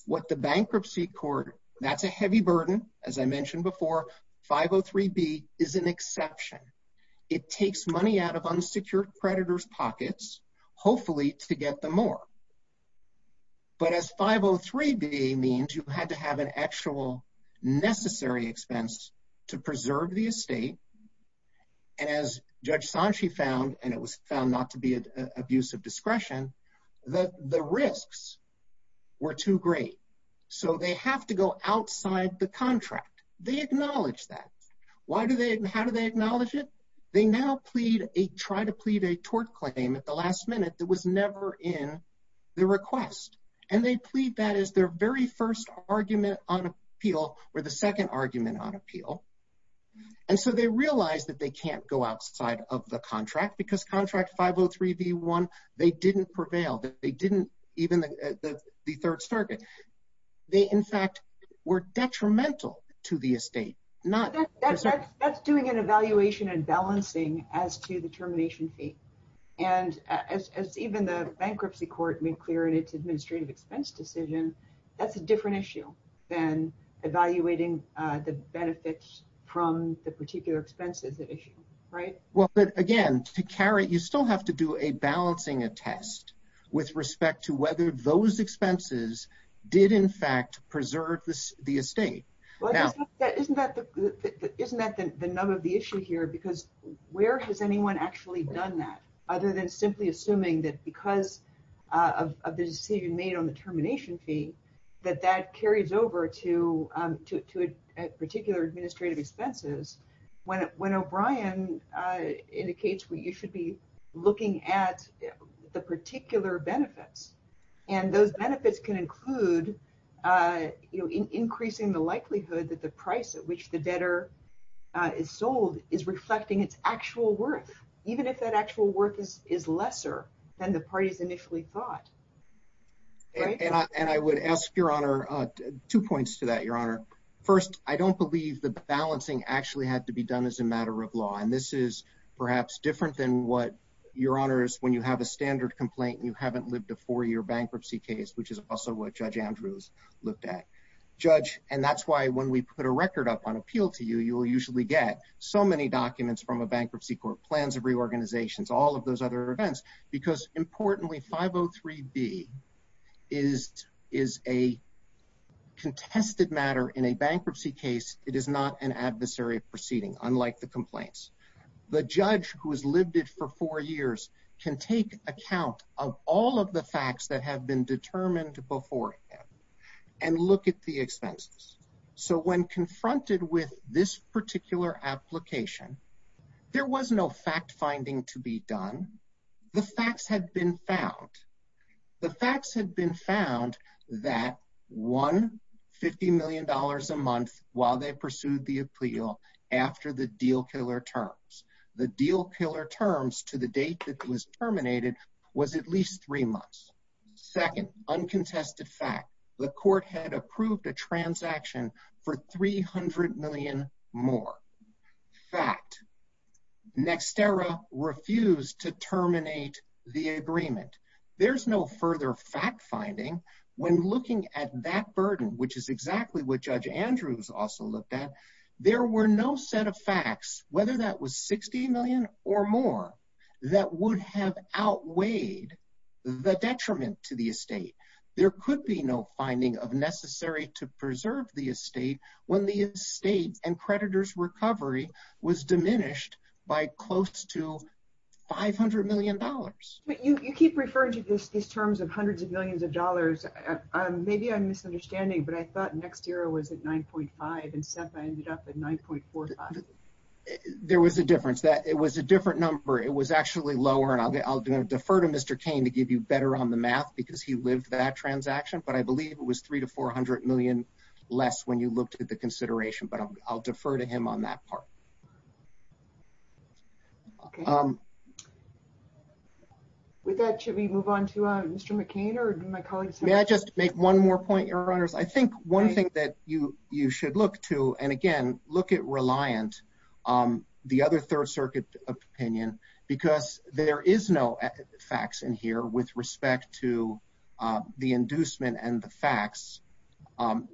What the Bankruptcy Court, that's a heavy burden, as I mentioned before, 503b is an exception. It takes money out of unsecured creditors pockets, hopefully to get them more. But as 503b means you had to have an actual necessary expense to preserve the estate. As Judge Sanchi found, and it was found not to be an abuse of discretion, the risks were too great. So they have to go outside the contract. They acknowledge that. How do they acknowledge it? They now try to plead a tort claim at the last minute that was never in the request. And they plead that as their very first argument on appeal or the second argument on appeal. And so they realize that they can't go outside of the contract because contract 503b1, they didn't prevail. They didn't even at the Third Circuit. They, in fact, were detrimental to the estate. That's doing an evaluation and balancing as to the termination fee. And as even the Bankruptcy Court made clear in its administrative expense decision, that's a different issue than evaluating the benefits from the particular expenses issue, right? Well, but again, to carry, you still have to do a balancing a test with respect to whether those expenses did, in fact, preserve the estate. Isn't that the nub of the issue here? Because where has anyone actually done that other than simply assuming that because of the decision made on the termination fee, that that carries over to a particular administrative expenses? When O'Brien indicates that you should be looking at the particular benefits, and those benefits can include increasing the likelihood that the price at which the debtor is sold is reflecting its actual worth, even if that actual worth is lesser than the parties initially thought. And I would ask, Your Honor, two points to that, Your Honor. First, I don't believe that the balancing actually had to be done as a matter of law. And this is perhaps different than what, Your Honors, when you have a standard complaint and you haven't lived a four-year bankruptcy case, which is also what Judge Andrews looked at. And that's why when we put a record up on appeal to you, you will usually get so many documents from a bankruptcy court, plans of reorganizations, all of those other events, because importantly, 503B is a contested matter in a bankruptcy case. It is not an adversary proceeding, unlike the complaints. The judge who has lived it for four years can take account of all of the facts that have been determined before him and look at the expenses. So when confronted with this particular application, there was no fact-finding to be done. The facts had been found. The facts had been found that one $50 million a month while they pursued the appeal after the deal killer terms. The deal killer terms to the date it was terminated was at least three months. Second, uncontested fact, the court had approved the transaction for $300 million more. Fact, Nextera refused to terminate the agreement. There's no further fact-finding when looking at that burden, which is exactly what Judge Andrews also looked at. There were no set of facts, whether that was $60 million or more, that would have outweighed the detriment to the estate. There could be no finding of necessary to preserve the estate when the estate and creditor's recovery was diminished by close to $500 million. You keep referring to these terms of hundreds of millions of dollars. Maybe I'm misunderstanding, but I thought Nextera was at $9.5 million and SEPA ended up at $9.4 million. There was a difference. It was a different number. It was actually lower. I'll defer to Mr. Kane to give you better on the math because he lived that transaction, but I believe it was $300 million to $400 million less when you looked at the consideration, but I'll defer to him on that part. With that, should we move on to Mr. McCain? May I just make one more point, Your Honors? I think one thing that you should look to, and again, look at Reliance, the other Third Circuit opinion, because there is no facts in here with respect to the inducement and the facts.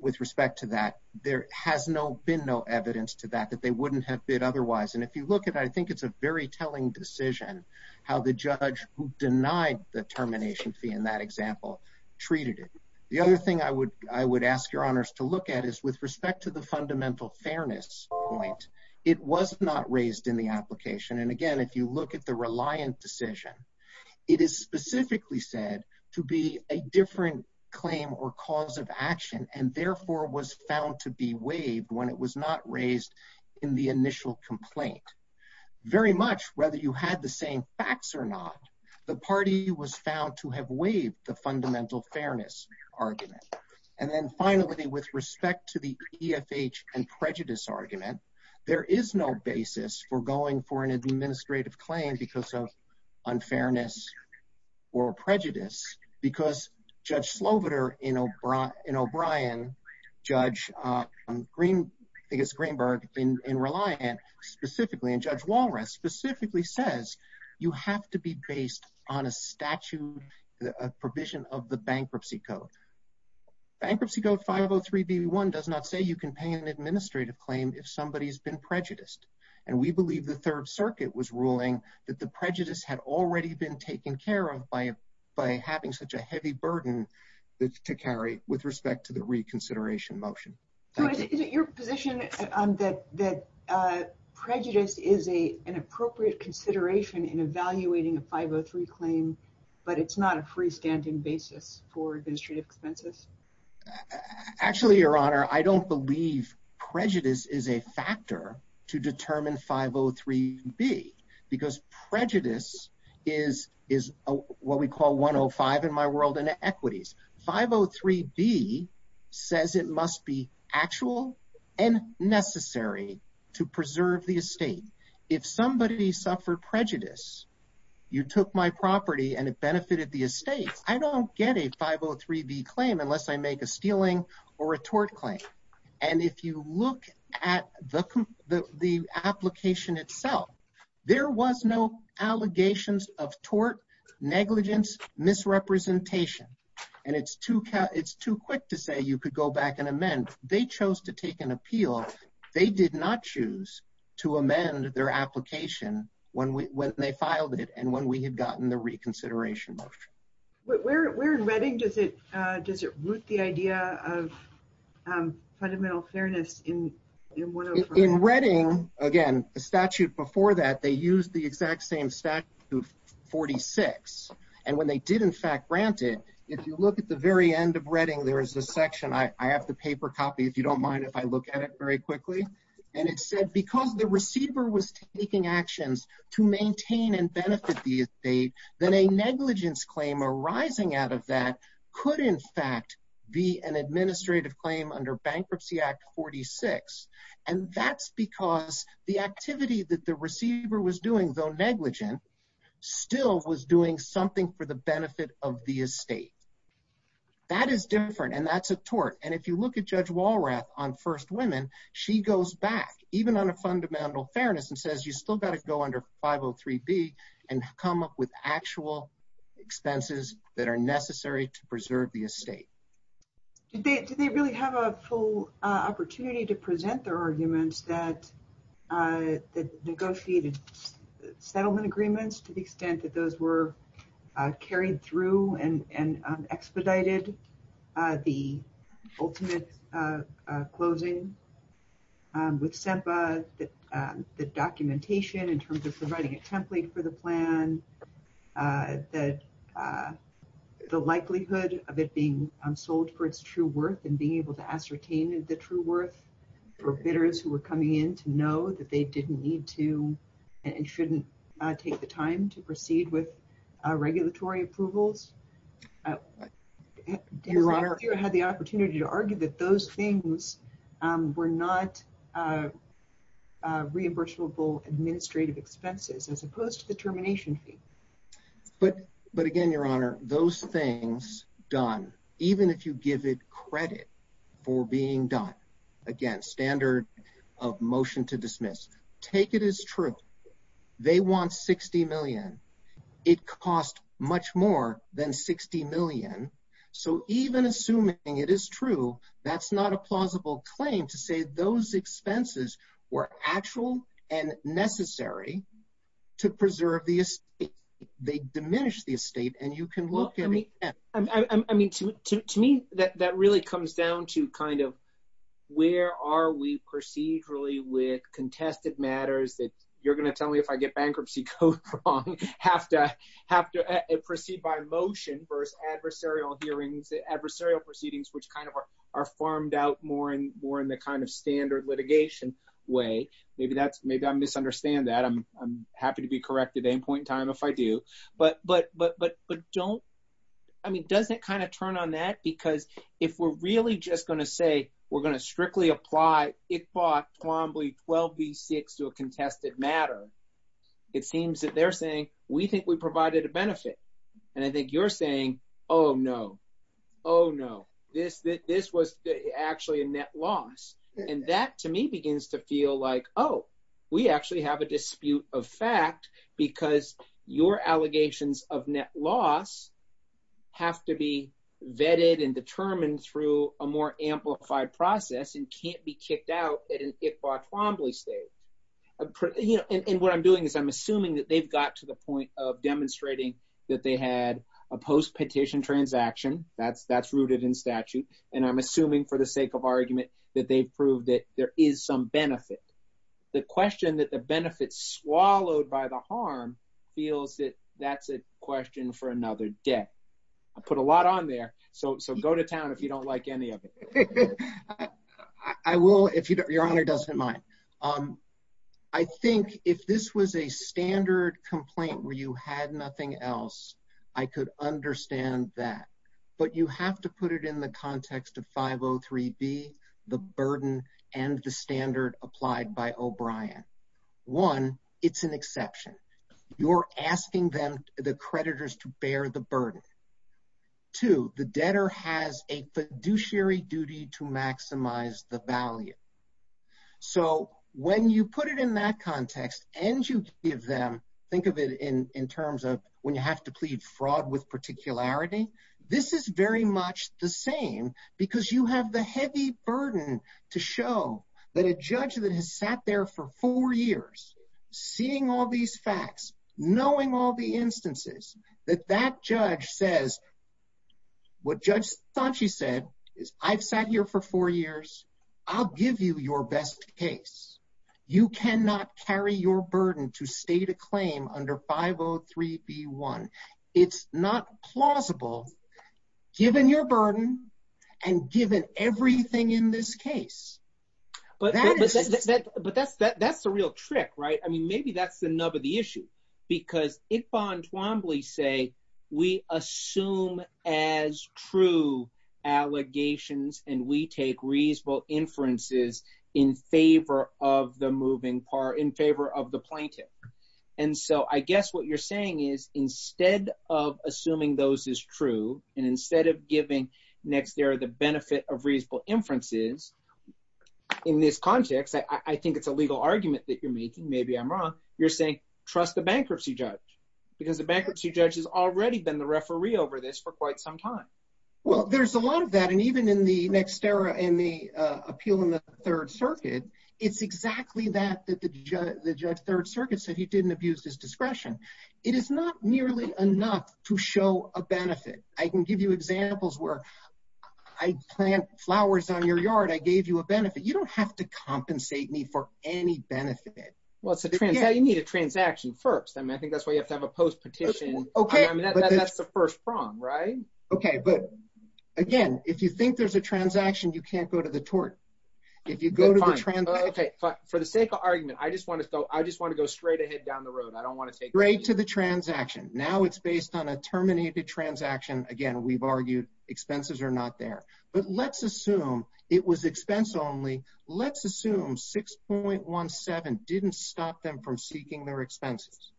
With respect to that, there has been no evidence to that that they wouldn't have bid otherwise, and if you look at it, I think it's a very telling decision how the judge who denied the termination fee in that example treated it. The other thing I would ask Your Honors to look at is with respect to the fundamental fairness point, it was not raised in the application, and again, if you look at the Reliance decision, it is specifically said to be a different claim or cause of action and therefore was found to be waived when it was not raised in the initial complaint. Very much whether you had the same facts or not, the party was found to have waived the fundamental fairness argument. And then finally, with respect to the PFH and prejudice argument, there is no basis for going for an administrative claim because of unfairness or prejudice, because Judge Slobodur in O'Brien, Judge Greenberg in Reliance specifically, and Judge Walras specifically says you have to be based on a statute, a provision of the bankruptcy code. Bankruptcy Code 503B1 does not say you can pay an administrative claim if somebody has been prejudiced, and we believe the Third Circuit was ruling that the prejudice had already been taken care of by having such a heavy burden to carry with respect to the reconsideration motion. So is it your position that prejudice is an appropriate consideration in evaluating a 503 claim, but it's not a freestanding basis for administrative expenses? Actually, Your Honor, I don't believe prejudice is a factor to determine 503B because prejudice is what we call 105 in my world and equities. 503B says it must be actual and necessary to preserve the estate. If somebody suffered prejudice, you took my property and it benefited the estate, I don't get a 503B claim unless I make a stealing or a tort claim. And if you look at the application itself, there was no allegations of tort, negligence, misrepresentation, and it's too quick to say you could go back and amend. They chose to take an appeal. They did not choose to amend their application when they filed it and when we had gotten the reconsideration motion. Where in Redding does it root the idea of fundamental fairness in 105? In Redding, again, the statute before that, they used the exact same statute, 46. And when they did in fact grant it, if you look at the very end of Redding, there is this section. I have the paper copy if you don't mind if I look at it very quickly. And it says because the receiver was taking actions to maintain and benefit the estate, then a negligence claim arising out of that could in fact be an administrative claim under Bankruptcy Act 46. And that's because the activity that the receiver was doing, though negligent, still was doing something for the benefit of the estate. That is different and that's a tort. And if you look at Judge Walrath on First Women, she goes back, even on a fundamental fairness, and says you've still got to go under 503B and come up with actual expenses that are necessary to preserve the estate. Did they really have a full opportunity to present their arguments that negotiated settlement agreements to the extent that those were carried through and expedited the ultimate closing? With SEPA, the documentation in terms of providing a template for the plan, the likelihood of it being sold for its true worth and being able to ascertain the true worth for bidders who were coming in to know that they didn't need to and shouldn't take the time to proceed with regulatory approvals. Your Honor, you had the opportunity to argue that those things were not reimbursable administrative expenses as opposed to the termination fee. But again, Your Honor, those things done, even if you give it credit for being done, again, standard of motion to dismiss, take it as true. They want $60 million. It costs much more than $60 million. So even assuming it is true, that's not a plausible claim to say those expenses were actual and necessary to preserve the estate. They diminish the estate, and you can look at it. To me, that really comes down to kind of where are we procedurally with contested matters that you're going to tell me if I get bankruptcy code wrong, have to proceed by motion versus adversarial hearings, adversarial proceedings, which kind of are farmed out more in the kind of standard litigation way. Maybe I misunderstand that. I'm happy to be correct at any point in time if I do. But don't, I mean, doesn't kind of turn on that because if we're really just going to say we're going to strictly apply Iqbal's 12B6 to a contested matter, it seems that they're saying, we think we provided a benefit. And I think you're saying, oh, no. Oh, no. This was actually a net loss. And that, to me, begins to feel like, oh, we actually have a dispute of fact because your allegations of net loss have to be vetted and determined through a more amplified process and can't be kicked out at an Iqbal-Twombly stage. So I think what I'm doing is I'm assuming that they've got to the point of demonstrating that they had a post-petition transaction. That's rooted in statute. And I'm assuming for the sake of argument that they've proved that there is some benefit. The question that the benefit's swallowed by the harm feels that that's a question for another day. I put a lot on there. So go to town if you don't like any of it. I will, if Your Honor doesn't mind. I think if this was a standard complaint where you had nothing else, I could understand that. But you have to put it in the context of 503B, the burden, and the standard applied by O'Brien. One, it's an exception. You're asking them, the creditors, to bear the burden. Two, the debtor has a fiduciary duty to maximize the value. So when you put it in that context and you give them – think of it in terms of when you have to plead fraud with particularity – this is very much the same because you have the heavy burden to show that a judge that has sat there for four years, seeing all these facts, knowing all the instances, that that judge says what Judge Fauci said is, I've sat here for four years. I'll give you your best case. You cannot carry your burden to state a claim under 503B1. It's not plausible, given your burden and given everything in this case. But that's the real trick, right? I mean, maybe that's the nub of the issue. Because Yvonne Twombly say, we assume as true allegations and we take reasonable inferences in favor of the plaintiff. And so I guess what you're saying is, instead of assuming those is true and instead of giving Nexterra the benefit of reasonable inferences in this context – I think it's a legal argument that you're making, maybe I'm wrong – you're saying, trust the bankruptcy judge because the bankruptcy judge has already been the referee over this for quite some time. Well, there's a lot of that. And even in the Nexterra and the appeal in the Third Circuit, it's exactly that that the Third Circuit said he didn't abuse his discretion. It is not nearly enough to show a benefit. I can give you examples where I plant flowers on your yard, I gave you a benefit. You don't have to compensate me for any benefit. Well, you need a transaction first. I mean, I think that's why you have to have a post petition. Okay. I mean, that's the first prong, right? Okay, but again, if you think there's a transaction, you can't go to the tort. If you go to the transaction – Okay, fine. For the sake of argument, I just want to go straight ahead down the road. I don't want to take – Straight to the transaction. Now it's based on a terminated transaction. Again, we've argued expenses are not there. But let's assume it was expense only. Let's assume 6.17 didn't stop them from seeking their expenses.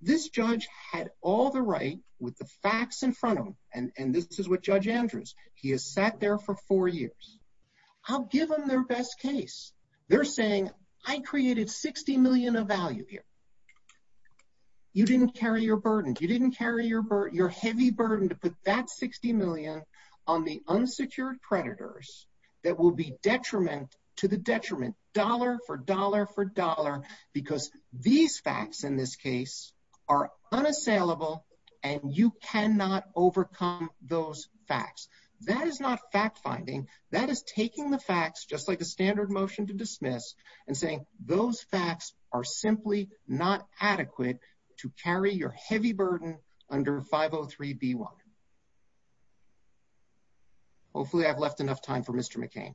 This judge had all the right with the facts in front of him, and this is what Judge Andrews, he has sat there for four years. I'll give them their best case. They're saying, I created 60 million of value here. You didn't carry your burden. You didn't carry your heavy burden to put that 60 million on the unsecured predators that will be detriment to the detriment, dollar for dollar for dollar, because these facts in this case are unassailable, and you cannot overcome those facts. That is not fact-finding. That is taking the facts, just like a standard motion to dismiss, and saying, those facts are simply not adequate to carry your heavy burden under 503B1. Hopefully, I've left enough time for Mr. McCain.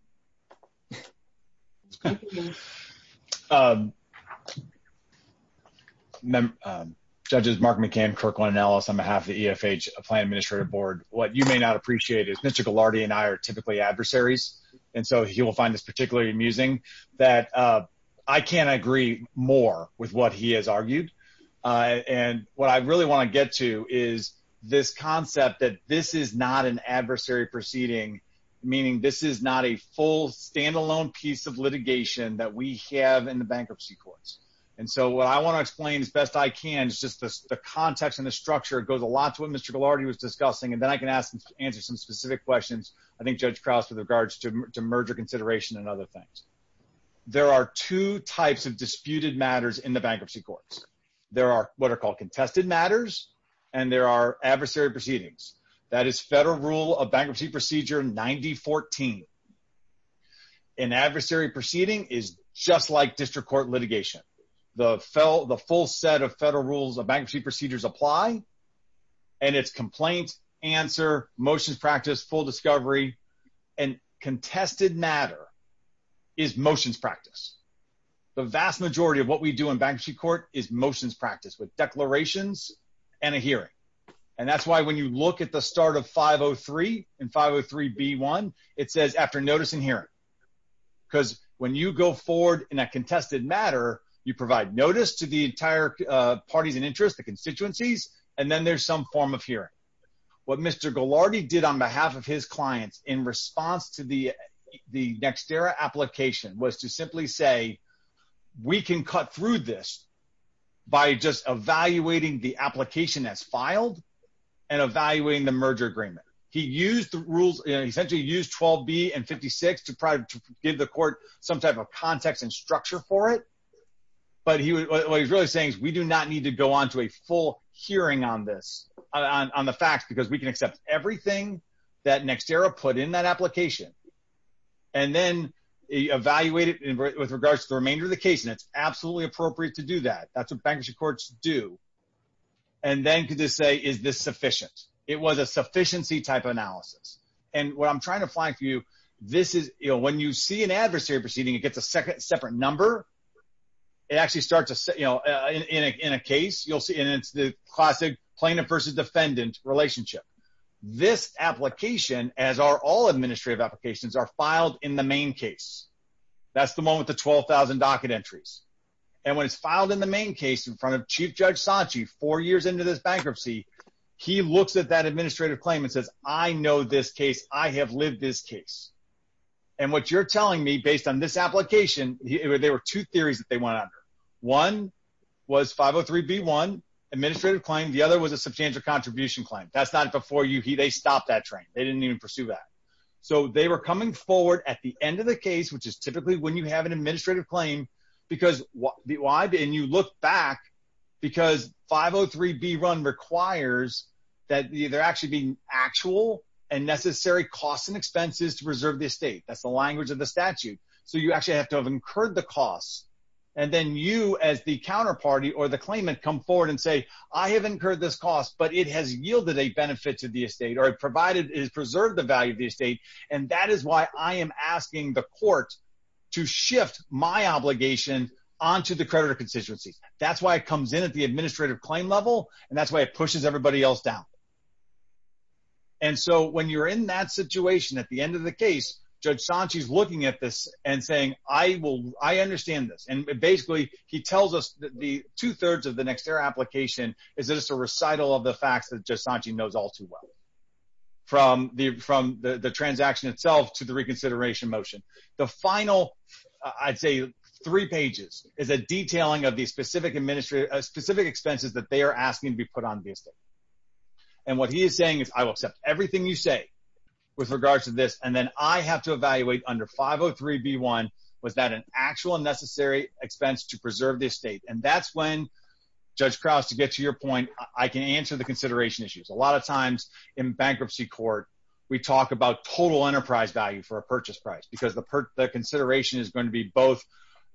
Judges, Mark McCain, Kirkland, and Ellis, on behalf of the EFH Applied Administrative Board, what you may not appreciate is Mr. Ghilardi and I are typically adversaries, and so he will find this particularly amusing, that I can't agree more with what he has argued. What I really want to get to is this concept that this is not an adversary proceeding, meaning this is not a full standalone piece of litigation that we have in the bankruptcy courts. What I want to explain as best I can is just the context and the structure. It goes a lot to what Mr. Ghilardi was discussing, and then I can answer some specific questions, I think, Judge Krause, with regards to merger consideration and other things. There are two types of disputed matters in the bankruptcy courts. There are what are called contested matters, and there are adversary proceedings. That is Federal Rule of Bankruptcy Procedure 9014. An adversary proceeding is just like district court litigation. The full set of Federal Rules of Bankruptcy Procedures apply, and it's complaint, answer, motions practice, full discovery, and contested matter is motions practice. The vast majority of what we do in bankruptcy court is motions practice with declarations and a hearing, and that's why when you look at the start of 503 and 503B1, it says after notice and hearing, because when you go forward in a contested matter, you provide notice to the entire parties and interests, the constituencies, and then there's some form of hearing. What Mr. Ghilardi did on behalf of his clients in response to the Nextera application was to simply say, we can cut through this by just evaluating the application that's filed and evaluating the merger agreement. He essentially used 12B and 56 to probably give the court some type of context and structure for it, but what he's really saying is we do not need to go on to a full hearing on this, on the facts, because we can accept everything that Nextera put in that application. Then evaluate it with regards to the remainder of the case, and it's absolutely appropriate to do that. That's what bankruptcy courts do, and then to just say, is this sufficient? It was a sufficiency type of analysis, and what I'm trying to find for you, when you see an adversary proceeding, it gets a separate number. It actually starts in a case, and it's the classic plaintiff versus defendant relationship. This application, as are all administrative applications, are filed in the main case. That's the moment the 12,000 docket entries. When it's filed in the main case in front of Chief Judge Sanchi four years into this bankruptcy, he looks at that administrative claim and says, I know this case. I have lived this case. What you're telling me, based on this application, there were two theories that they went under. One was 503B1, administrative claim. The other was a substantial contribution claim. That's not before they stopped that train. They didn't even pursue that. They were coming forward at the end of the case, which is typically when you have an administrative claim, and you look back, because 503B1 requires that there actually be actual and necessary costs and expenses to preserve the estate. That's the language of the statute. You actually have to have incurred the costs. Then you, as the counterparty or the claimant, come forward and say, I have incurred this cost, but it has yielded a benefit to the estate, or it has preserved the value of the estate. That is why I am asking the court to shift my obligation onto the creditor constituency. That's why it comes in at the administrative claim level, and that's why it pushes everybody else down. When you're in that situation at the end of the case, Judge Sanche is looking at this and saying, I understand this. Basically, he tells us that two-thirds of the Nextera application is just a recital of the facts that Judge Sanche knows all too well, from the transaction itself to the reconsideration motion. The final, I'd say, three pages is a detailing of the specific expenses that they are asking to be put on the estate. What he is saying is, I will accept everything you say with regards to this, and then I have to evaluate under 503B1, was that an actual and necessary expense to preserve the estate? That's when, Judge Krause, to get to your point, I can answer the consideration issues. A lot of times in bankruptcy court, we talk about total enterprise value for a purchase price, because the consideration is going to be both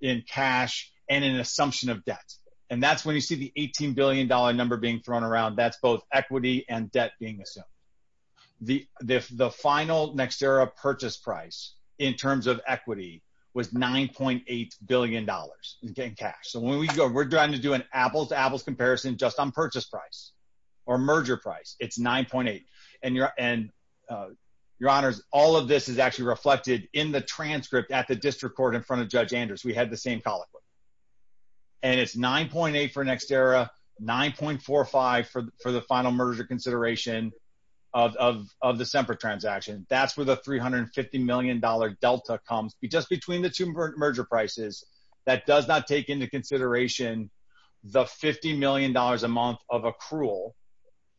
in cash and an assumption of debt. That's when you see the $18 billion number being thrown around. That's both equity and debt being assumed. The final Nextera purchase price, in terms of equity, was $9.8 billion in cash. We're trying to do an apples-to-apples comparison just on purchase price or merger price. It's 9.8. Your Honors, all of this is actually reflected in the transcript at the district court in front of Judge Anders. We had the same colloquy. It's 9.8 for Nextera, 9.45 for the final merger consideration of the Semper transaction. That's where the $350 million delta comes. Just between the two merger prices, that does not take into consideration the $50 million a month of accrual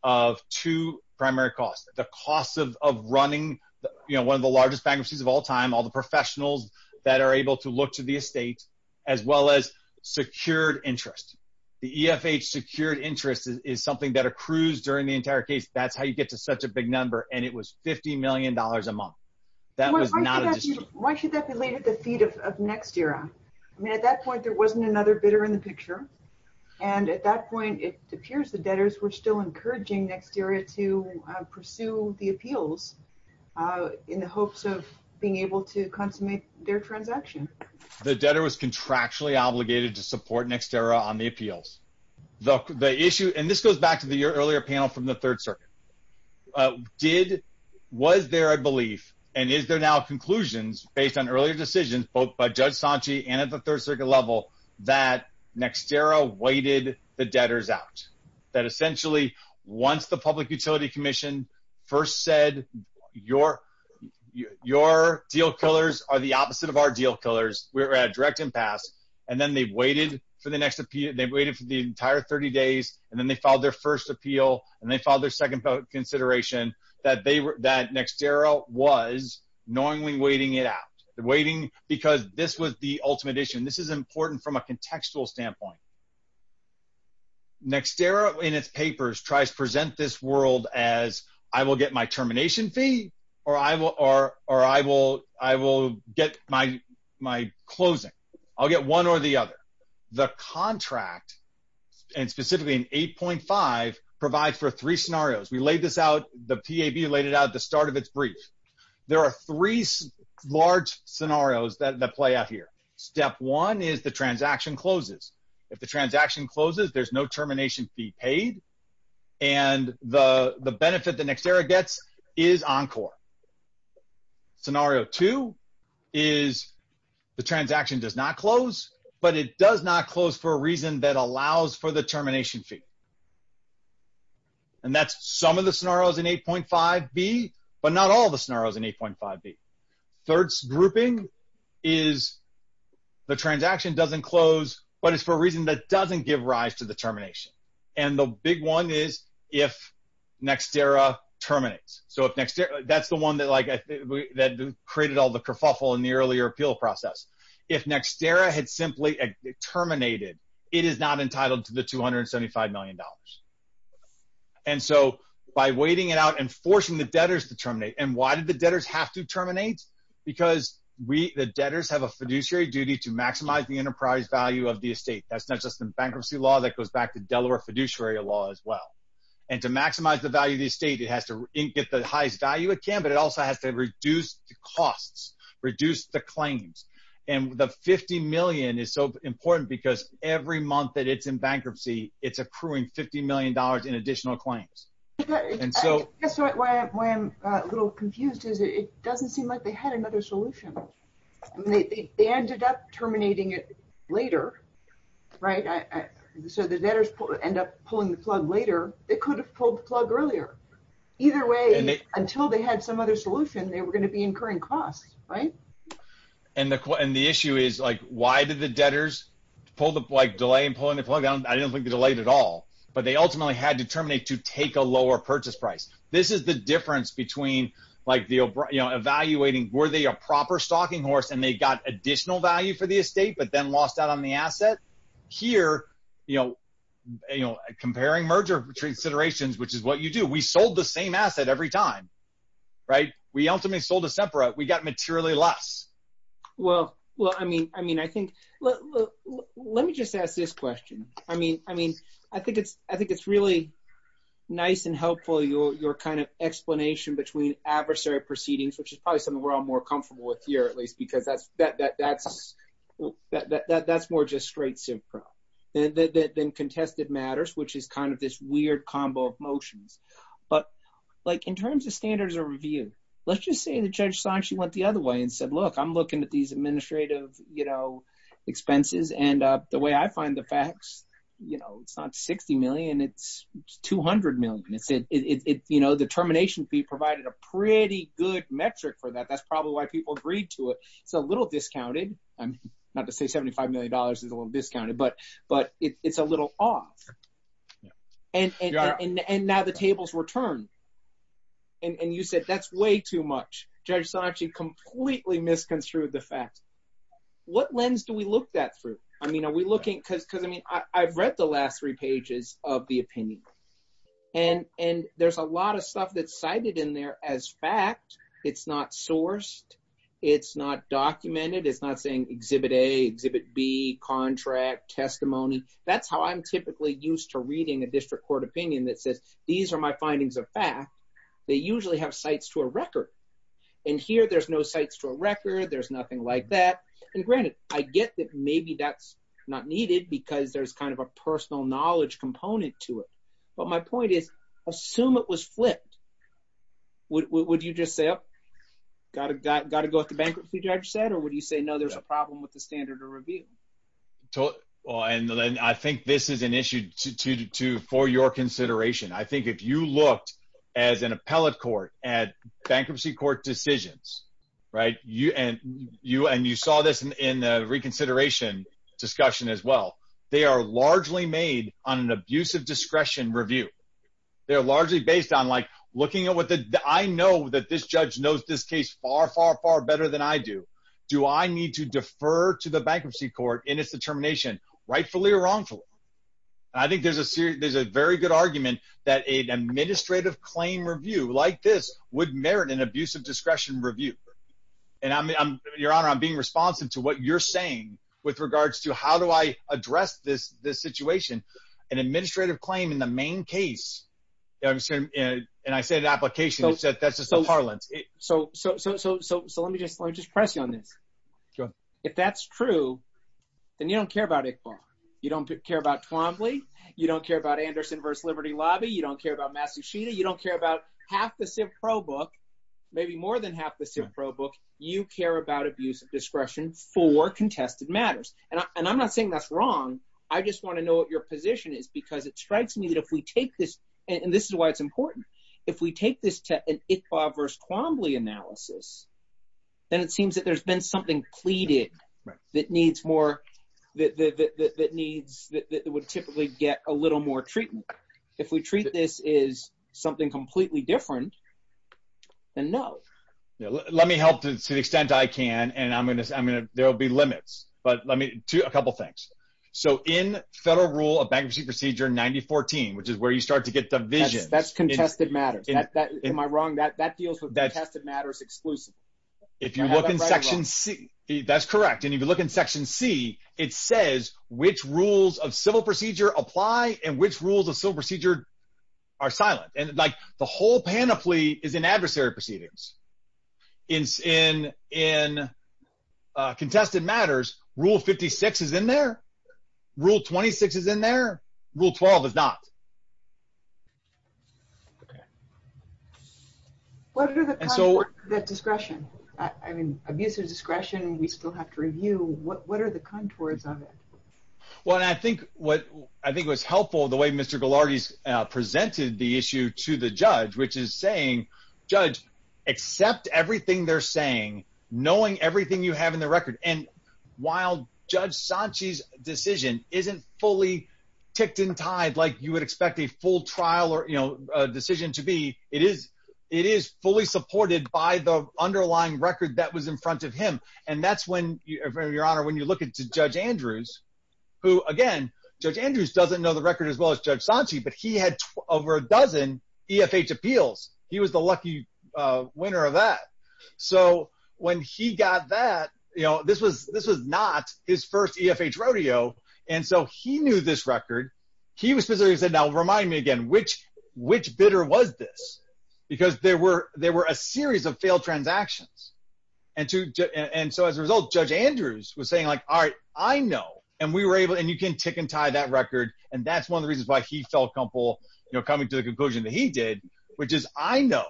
of two primary costs. The cost of running one of the largest bankruptcies of all time, all the professionals that are able to look to the estate, as well as secured interest. The EFH secured interest is something that accrues during the entire case. That's how you get to such a big number. It was $50 million a month. That was not an issue. Why should that be laid at the feet of Nextera? At that point, there wasn't another bidder in the picture. At that point, it appears the debtors were still encouraging Nextera to pursue the appeals in the hopes of being able to consummate their transaction. The debtor was contractually obligated to support Nextera on the appeals. This goes back to the earlier panel from the Third Circuit. Was there a belief, and is there now a conclusion based on earlier decisions both by Judge Sanchi and at the Third Circuit level, that Nextera waited the debtors out? That essentially, once the Public Utility Commission first said, your deal killers are the opposite of our deal killers, we're at a direct impasse, and then they've waited for the entire 30 days, and then they filed their first appeal, and they filed their second consideration, that Nextera was knowingly waiting it out. Because this was the ultimate issue, and this is important from a contextual standpoint. Nextera, in its papers, tries to present this world as, I will get my termination fee, or I will get my closing. I'll get one or the other. The contract, and specifically in 8.5, provides for three scenarios. We laid this out, the PAB laid it out at the start of its brief. There are three large scenarios that play out here. Step one is the transaction closes. If the transaction closes, there's no termination fee paid, and the benefit that Nextera gets is encore. Scenario two is the transaction does not close, but it does not close for a reason that allows for the termination fee. And that's some of the scenarios in 8.5b, but not all the scenarios in 8.5b. Third grouping is the transaction doesn't close, but it's for a reason that doesn't give rise to the termination. And the big one is if Nextera terminates. That's the one that created all the kerfuffle in the earlier appeal process. If Nextera had simply terminated, it is not entitled to the $275 million. And so by waiting it out and forcing the debtors to terminate, and why did the debtors have to terminate? Because the debtors have a fiduciary duty to maximize the enterprise value of the estate. That's not just in bankruptcy law, that goes back to Delaware fiduciary law as well. And to maximize the value of the estate, it has to get the highest value it can, but it also has to reduce the costs, reduce the claims. And the $50 million is so important because every month that it's in bankruptcy, it's accruing $50 million in additional claims. I guess why I'm a little confused is it doesn't seem like they had another solution. They ended up terminating it later, right? So the debtors end up pulling the plug later. They could have pulled the plug earlier. Either way, until they had some other solution, they were going to be incurring costs, right? And the issue is, why did the debtors delay in pulling the plug? I don't think they delayed at all, but they ultimately had to terminate to take a lower purchase price. This is the difference between evaluating, were they a proper stocking horse and they got additional value for the estate, but then lost out on the asset? Here, comparing merger considerations, which is what you do, we sold the same asset every time, right? We ultimately sold a separate, we got materially less. Well, I mean, I think, let me just ask this question. I mean, I think it's really nice and helpful, your kind of explanation between adversary proceedings, which is probably something we're all more comfortable with here, at least, because that's more just straight SIPRA than contested matters, which is kind of this weird combo of motions. But in terms of standards of review, let's just say the judge saw she went the other way and said, look, I'm looking at these administrative expenses, and the way I find the facts, it's not 60 million, it's 200 million. The termination fee provided a pretty good metric for that. That's probably why people agreed to it. It's a little discounted. Not to say $75 million is a little discounted, but it's a little off. And now the tables were turned. And you said, that's way too much. Judge saw she completely misconstrued the facts. What lens do we look that through? I mean, are we looking, because I mean, I've read the last three pages of the opinion. And there's a lot of stuff that's cited in there as fact. It's not sourced. It's not documented. It's not saying exhibit A, exhibit B, contract, testimony. That's how I'm typically used to reading a district court opinion that says, these are my findings of fact. And here, there's no sites to a record. There's nothing like that. And granted, I get that maybe that's not needed because there's kind of a personal knowledge component to it. But my point is, assume it was flipped. Would you just say, oh, got to go with the bankruptcy judge said, or would you say, no, there's a problem with the standard of review? And I think this is an issue for your consideration. I think if you looked at an appellate court, at bankruptcy court decisions, and you saw this in the reconsideration discussion as well, they are largely made on an abuse of discretion review. They're largely based on like, looking at what the, I know that this judge knows this case far, far, far better than I do. Do I need to defer to the bankruptcy court in its determination, rightfully or wrongfully? I think there's a very good argument that an administrative claim review like this would merit an abuse of discretion review. And your honor, I'm being responsive to what you're saying with regards to how do I address this situation. An administrative claim in the main case, and I said application, that's just a parlance. So let me just press you on this. If that's true, then you don't care about ICFAR. You don't care about Quambley. You don't care about Anderson versus Liberty Lobby. You don't care about Massacheta. You don't care about half the Civ Pro book, maybe more than half the Civ Pro book. You care about abuse of discretion for contested matters. And I'm not saying that's wrong. I just want to know what your position is because it strikes me that if we take this, and this is why it's important, if we take this to an ICFAR versus Quambley analysis, then it seems that there's been something pleaded that needs more, that would typically get a little more treatment. If we treat this as something completely different, then no. To the extent I can, and there will be limits. But let me do a couple things. So in Federal Rule of Bankruptcy Procedure 9014, which is where you start to get the vision. That's contested matters. Am I wrong? That deals with contested matters exclusively. If you look in Section C, that's correct. And if you look in Section C, it says which rules of civil procedure apply and which rules of civil procedure are silent. And the whole panoply is in adversary proceedings. In contested matters, Rule 56 is in there. Rule 26 is in there. Rule 12 is not. What are the contours of that discretion? I mean, abuse of discretion, and we still have to review. What are the contours of it? Well, and I think it was helpful the way Mr. Ghilardi presented the issue to the judge, which is saying, judge, accept everything they're saying, knowing everything you have in the record. And while Judge Sanchi's decision isn't fully ticked in time like you would expect a full trial or decision to be, it is fully supported by the underlying record that was in front of him. And that's when, Your Honor, when you look at Judge Andrews, who again, Judge Andrews doesn't know the record as well as Judge Sanchi, but he had over a dozen EFH appeals. He was the lucky winner of that. So when he got that, you know, this was not his first EFH rodeo. And so he knew this record. He was simply saying, now remind me again, which bidder was this? Because there were a series of failed transactions. And so as a result, Judge Andrews was saying, like, all right, I know. And we were able, and you can pick and tie that record. And that's one of the reasons why he felt comfortable, you know, coming to the conclusion that he did, which is I know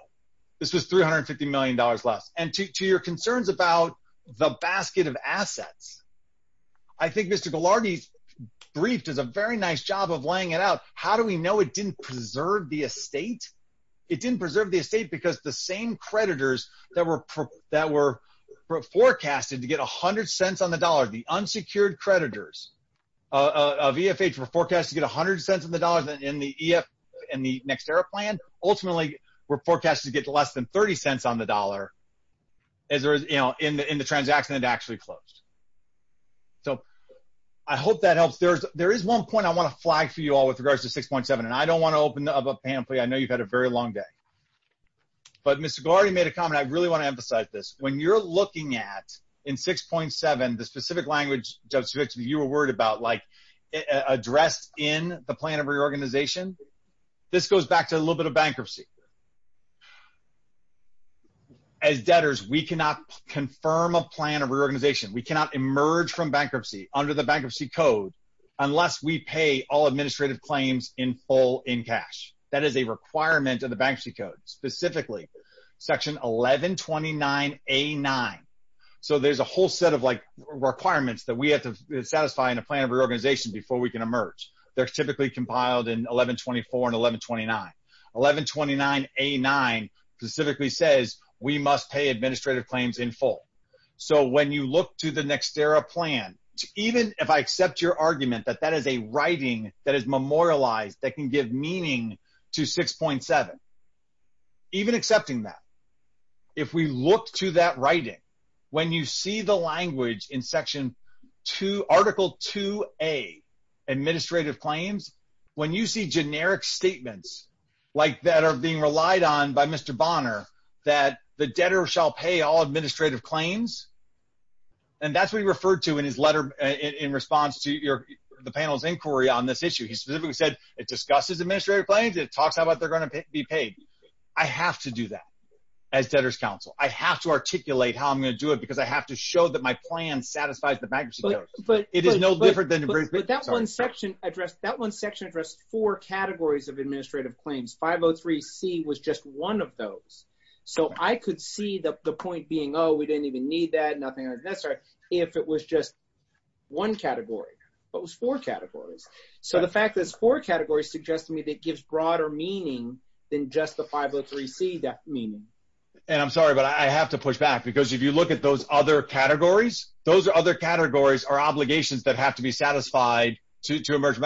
this is $350 million left. And to your concerns about the basket of assets, I think Mr. Ghilardi's brief did a very nice job of laying it out. How do we know it didn't preserve the estate? It didn't preserve the estate because the same creditors that were forecasted to get $0.10 on the dollar, the unsecured creditors of EFH were forecasted to get $0.10 on the dollar in the next era plan. And ultimately were forecasted to get less than $0.30 on the dollar in the transaction that actually closed. So I hope that helps. There is one point I want to flag for you all with regards to 6.7. And I don't want to open up a panoply. I know you've had a very long day. But Mr. Ghilardi made a comment. I really want to emphasize this. When you're looking at, in 6.7, the specific language, Judge Fitz, you were worried about, like address in the plan of reorganization, this goes back to a little bit of bankruptcy. As debtors, we cannot confirm a plan of reorganization. We cannot emerge from bankruptcy under the Bankruptcy Code unless we pay all administrative claims in full in cash. That is a requirement of the Bankruptcy Code. Specifically, Section 1129A9. So there's a whole set of requirements that we have to satisfy in a plan of reorganization before we can emerge. They're typically compiled in 1124 and 1129. 1129A9 specifically says we must pay administrative claims in full. So when you look to the next era plan, even if I accept your argument that that is a writing that is memorialized that can give meaning to 6.7, even accepting that, if we look to that writing, when you see the language in Section 2, Article 2A, Administrative Claims, when you see generic statements like that are being relied on by Mr. Bonner, that the debtor shall pay all administrative claims, and that's what he referred to in his letter in response to the panel's inquiry on this issue. He specifically said it discusses administrative claims, it talks about how they're going to be paid. I have to do that as debtor's counsel. I have to articulate how I'm going to do it because I have to show that my plan satisfies the Bankruptcy Code. But that one section addressed four categories of administrative claims. 503C was just one of those. So I could see the point being, oh, we didn't even need that, nothing of that sort, if it was just one category. But it was four categories. So the fact that it's four categories suggests to me that it gives broader meaning than just the 503C meaning. And I'm sorry, but I have to push back because if you look at those other categories, those other categories are obligations that have to be satisfied to emerge.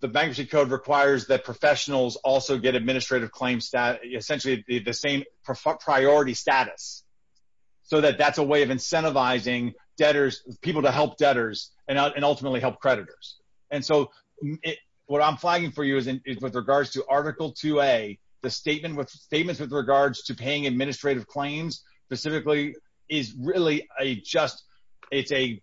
The Bankruptcy Code requires that professionals also get administrative claims, essentially the same priority status, so that that's a way of incentivizing debtors, people to help debtors, and ultimately help creditors. And so what I'm flagging for you is with regards to Article 2A, the statements with regards to paying administrative claims specifically is really just a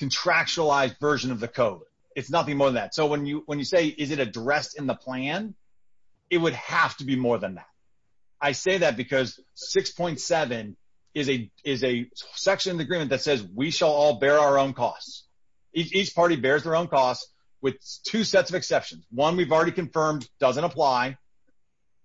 contractualized version of the code. It's nothing more than that. So when you say, is it addressed in the plan, it would have to be more than that. I say that because 6.7 is a section of the agreement that says we shall all bear our own costs. Each party bears their own costs with two sets of exceptions. One we've already confirmed doesn't apply.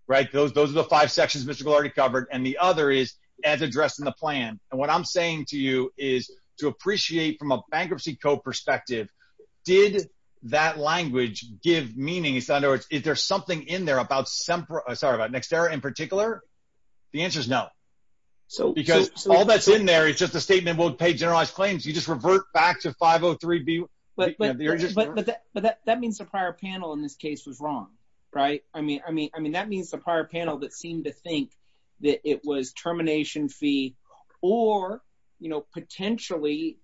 Right. Those are the five sections that we've already covered. And the other is, as addressed in the plan. And what I'm saying to you is to appreciate from a Bankruptcy Code perspective, did that language give meaning? In other words, is there something in there about Nexterra in particular? The answer is no. Because all that's in there is just a statement, we'll pay generalized claims. You just revert back to 503B. But that means the prior panel in this case was wrong, right? I mean, that means the prior panel that seemed to think that it was termination fee or, you know, potentially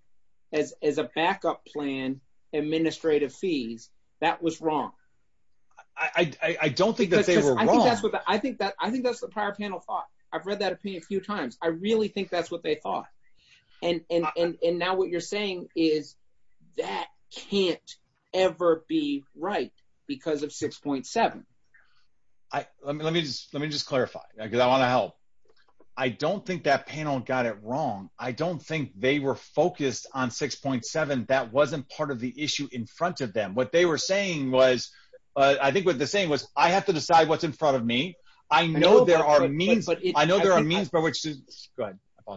as a backup plan, administrative fees, that was wrong. I don't think that they were wrong. I think that's what the prior panel thought. I've read that a few times. I really think that's what they thought. And now what you're saying is that can't ever be right because of 6.7. Let me just clarify. I don't think that panel got it wrong. I don't think they were focused on 6.7. That wasn't part of the issue in front of them. What they were saying was, I think what they're saying was, I have to decide what's in front of me. I know there are means for which to...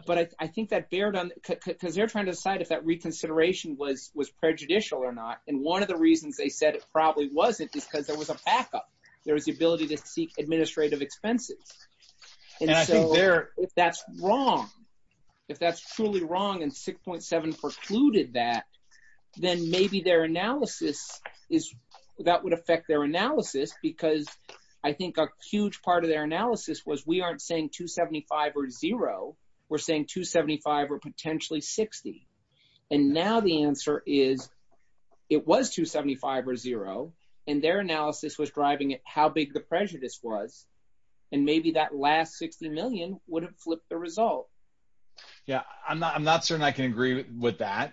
But I think that they're trying to decide if that reconsideration was prejudicial or not. And one of the reasons they said it probably wasn't because there was a backup. There was the ability to seek administrative expenses. And so if that's wrong, if that's truly wrong and 6.7 precluded that, then maybe their analysis is, that would affect their analysis because I think a huge part of their analysis was we aren't saying 275 or zero. We're saying 275 or potentially 60. And now the answer is it was 275 or zero. And their analysis was driving how big the prejudice was. And maybe that last 60 million wouldn't flip the result. Yeah, I'm not certain I can agree with that.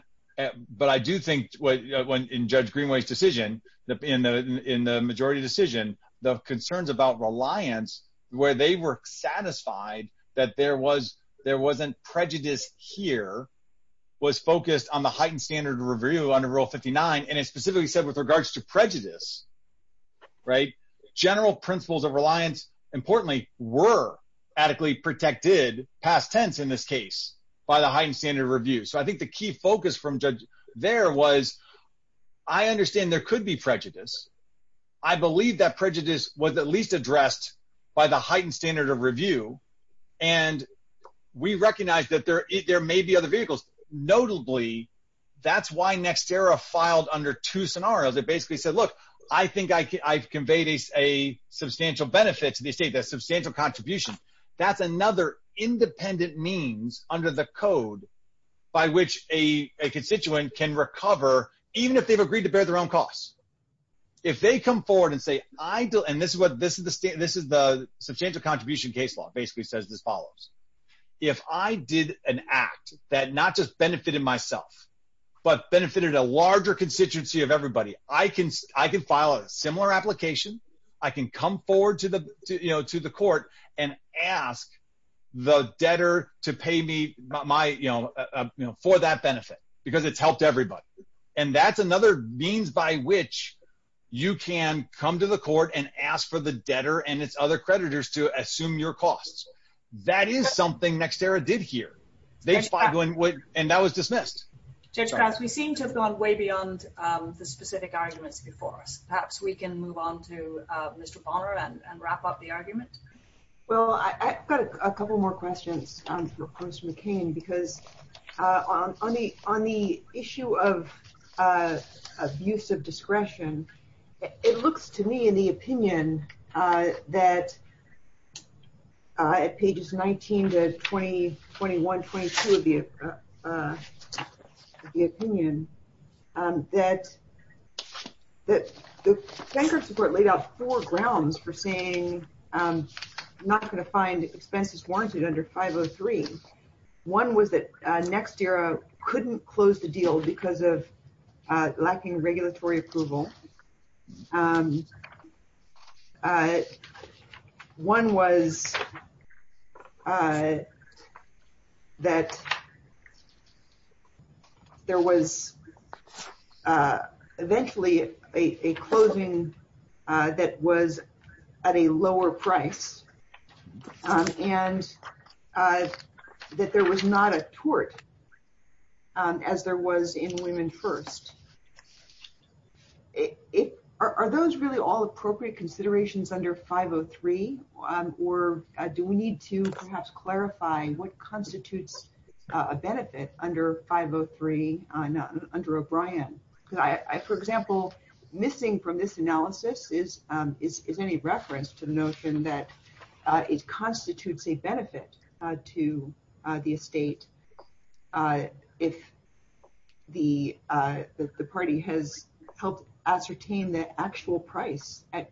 But I do think in Judge Greenway's decision, in the majority decision, the concerns about reliance, where they were satisfied that there wasn't prejudice here, was focused on the heightened standard of review under Rule 59. And it specifically said with regards to prejudice, general principles of reliance, importantly, were adequately protected, past tense in this case, by the heightened standard of review. So I think the key focus from Judge there was, I understand there could be prejudice. I believe that prejudice was at least addressed by the heightened standard of review. And we recognize that there may be other vehicles. Notably, that's why Nextera filed under two scenarios. It basically said, look, I think I conveyed a substantial benefit to the state, a substantial contribution. That's another independent means under the code by which a constituent can recover, even if they've agreed to bear their own costs. If they come forward and say, and this is the substantial contribution case law, basically says this follows. If I did an act that not just benefited myself, but benefited a larger constituency of everybody, I can file a similar application. I can come forward to the court and ask the debtor to pay me for that benefit, because it's helped everybody. And that's another means by which you can come to the court and ask for the debtor and its other creditors to assume your costs. That is something Nextera did here. And that was dismissed. Judge Cox, we seem to have gone way beyond the specific arguments before us. Perhaps we can move on to Mr. Ballmer and wrap up the arguments. Well, I've got a couple more questions for Mr. McCain, because on the issue of abuse of discretion, it looks to me in the opinion that, at pages 19 to 21, 22 of the opinion, that the Senate court laid out four grounds for saying I'm not going to find expenses warranted under 503. One was that Nextera couldn't close the deal because of lacking regulatory approval. One was that there was eventually a closing that was at a lower price, and that there was not a tort as there was in Women First. Are those really all appropriate considerations under 503, or do we need to perhaps clarify what constitutes a benefit under 503 under O'Brien? For example, missing from this analysis is any reference to the notion that it constitutes a benefit to the estate if the party has helped ascertain the actual price at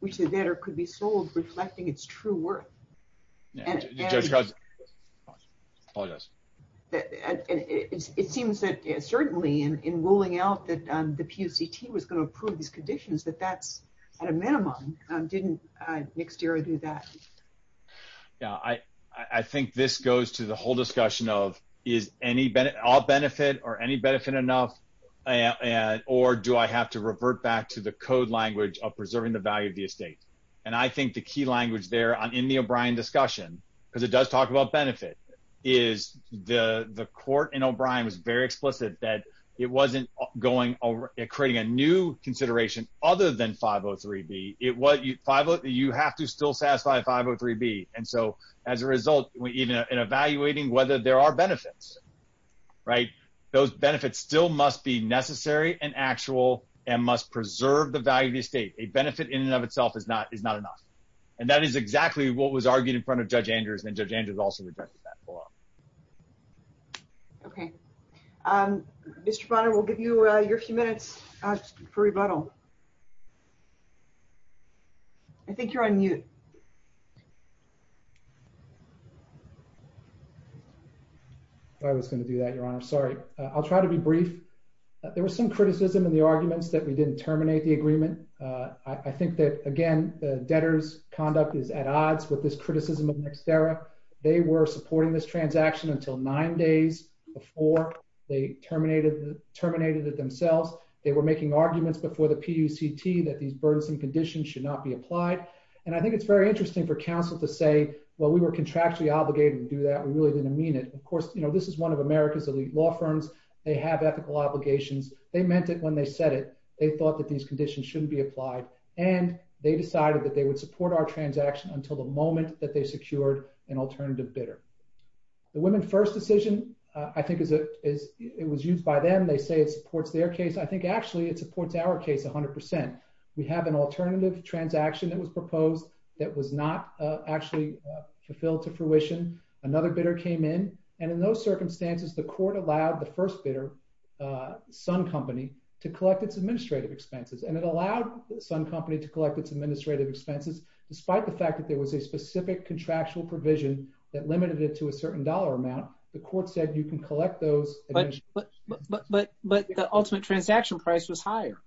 which the debtor could be sold reflecting its true worth. And it seems that certainly in ruling out that the PUCT was going to approve these conditions, that that's at a minimum. Didn't Nextera do that? Yeah, I think this goes to the whole discussion of is all benefit or any benefit enough, or do I have to revert back to the code language of preserving the value of the estate? And I think the key language there in the O'Brien discussion, because it does talk about benefit, is the court in O'Brien was very explicit that it wasn't creating a new consideration other than 503B. You have to still satisfy 503B. And so as a result, in evaluating whether there are benefits, those benefits still must be necessary and actual and must preserve the value of the estate. A benefit in and of itself is not enough. And that is exactly what was argued in front of Judge Andrews, and Judge Andrews also rejected that. Okay. Mr. Bonner, we'll give you your few minutes for rebuttal. I think you're on mute. I was going to do that, Your Honor. Sorry. I'll try to be brief. There was some criticism in the arguments that we didn't terminate the agreement. I think that, again, debtor's conduct is at odds with this criticism of Nextera. They were supporting this transaction until nine days before they terminated it themselves. They were making arguments before the PUCT that these burdensome conditions should not be applied. And I think it's very interesting for counsel to say, well, we were contractually obligated to do that. We really didn't mean it. Of course, you know, this is one of America's elite law firms. They have ethical obligations. They meant it when they said it. They thought that these conditions shouldn't be applied. And they decided that they would support our transaction until the moment that they secured an alternative bidder. The women's first decision, I think it was used by them. They say it supports their case. I think, actually, it supports our case 100%. We have an alternative transaction that was proposed that was not actually fulfilled to fruition. Another bidder came in. And in those circumstances, the court allowed the first bidder, some company, to collect its administrative expenses. And it allowed some company to collect its administrative expenses, despite the fact that there was a specific contractual provision that limited it to a certain dollar amount. The court said you can collect those. But the ultimate transaction price was higher.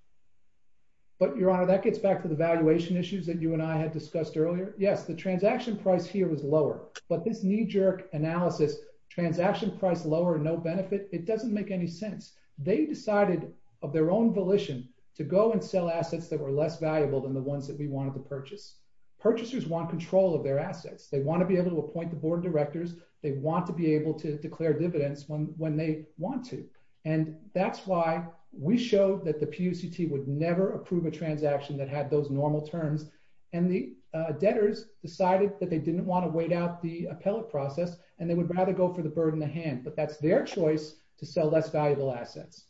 But, Your Honor, that gets back to the valuation issues that you and I had discussed earlier. Yes, the transaction price here was lower. But this knee-jerk analysis, transaction price lower, no benefit, it doesn't make any sense. They decided, of their own volition, to go and sell assets that were less valuable than the ones that we wanted to purchase. Purchasers want control of their assets. They want to be able to appoint the board of directors. They want to be able to declare dividends when they want to. And that's why we showed that the PUCT would never approve a transaction that had those normal terms. And the debtors decided that they didn't want to wait out the appellate process, and they would rather go for the bird in the hand. But that's their choice to sell less valuable assets.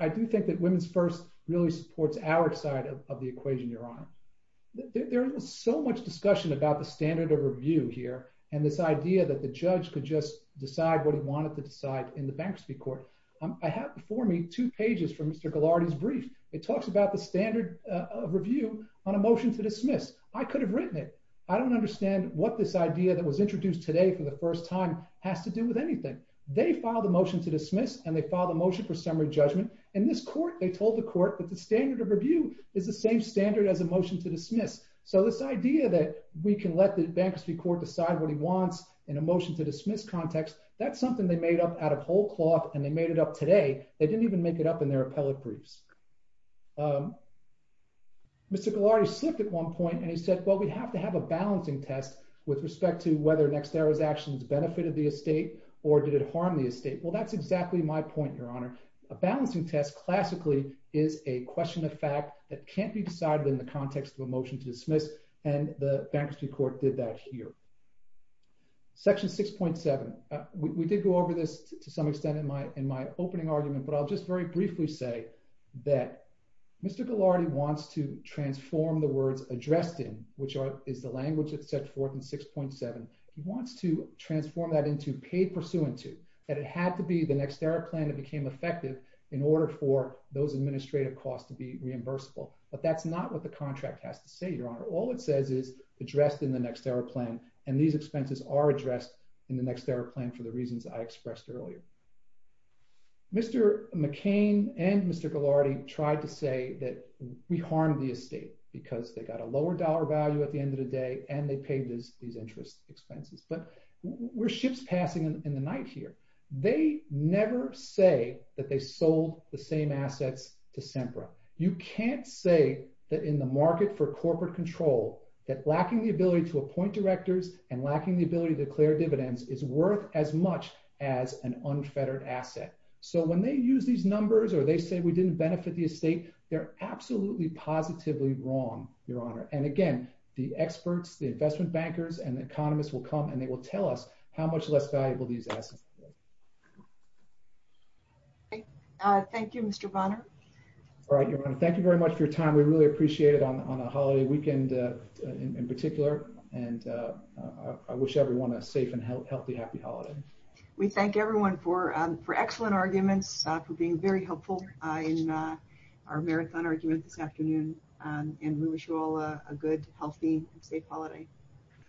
I do think that Women's First really supports our side of the equation, Your Honor. There is so much discussion about the standard of review here and this idea that the judge could just decide what he wanted to decide in the bankruptcy court. I have before me two pages from Mr. Ghilardi's brief. It talks about the standard of review on a motion to dismiss. I could have written it. I don't understand what this idea that was introduced today for the first time has to do with anything. They filed a motion to dismiss, and they filed a motion for summary judgment. In this court, they told the court that the standard of review is the same standard as a motion to dismiss. So this idea that we can let the bankruptcy court decide what he wants in a motion to dismiss context, that's something they made up out of whole cloth, and they made it up today. They didn't even make it up in their appellate briefs. Mr. Ghilardi slipped at one point and he said, well, we have to have a balancing test with respect to whether an ex-servant's actions benefited the estate or did it harm the estate. Well, that's exactly my point, Your Honor. A balancing test classically is a question of fact that can't be decided in the context of a motion to dismiss, and the bankruptcy court did that here. Section 6.7. We did go over this to some extent in my opening argument, but I'll just very briefly say that Mr. Ghilardi wants to transform the words addressed in, which is the language of Section 4 and 6.7. He wants to transform that into paid pursuant to, that it had to be the next era plan that became effective in order for those administrative costs to be reimbursable, but that's not what the contract has to say, Your Honor. All it says is addressed in the next era plan, and these expenses are addressed in the next era plan for the reasons I expressed earlier. Mr. McCain and Mr. Ghilardi tried to say that we harmed the estate because they got a lower dollar value at the end of the day, and they paid these interest expenses. We're shifts passing in the night here. They never say that they sold the same assets to SEMPRA. You can't say that in the market for corporate control, that lacking the ability to appoint directors and lacking the ability to declare dividends is worth as much as an unfettered asset. So when they use these numbers or they say we didn't benefit the estate, they're absolutely positively wrong, Your Honor. And again, the experts, the investment bankers and economists will come and they will tell us how much less valuable these assets are. Thank you, Mr. Bonner. All right, Your Honor. Thank you very much for your time. We really appreciate it on a holiday weekend in particular, and I wish everyone a safe and healthy, happy holiday. We thank everyone for excellent arguments, for being very helpful in our marathon arguments this afternoon, and we wish you all a good, healthy, safe holiday.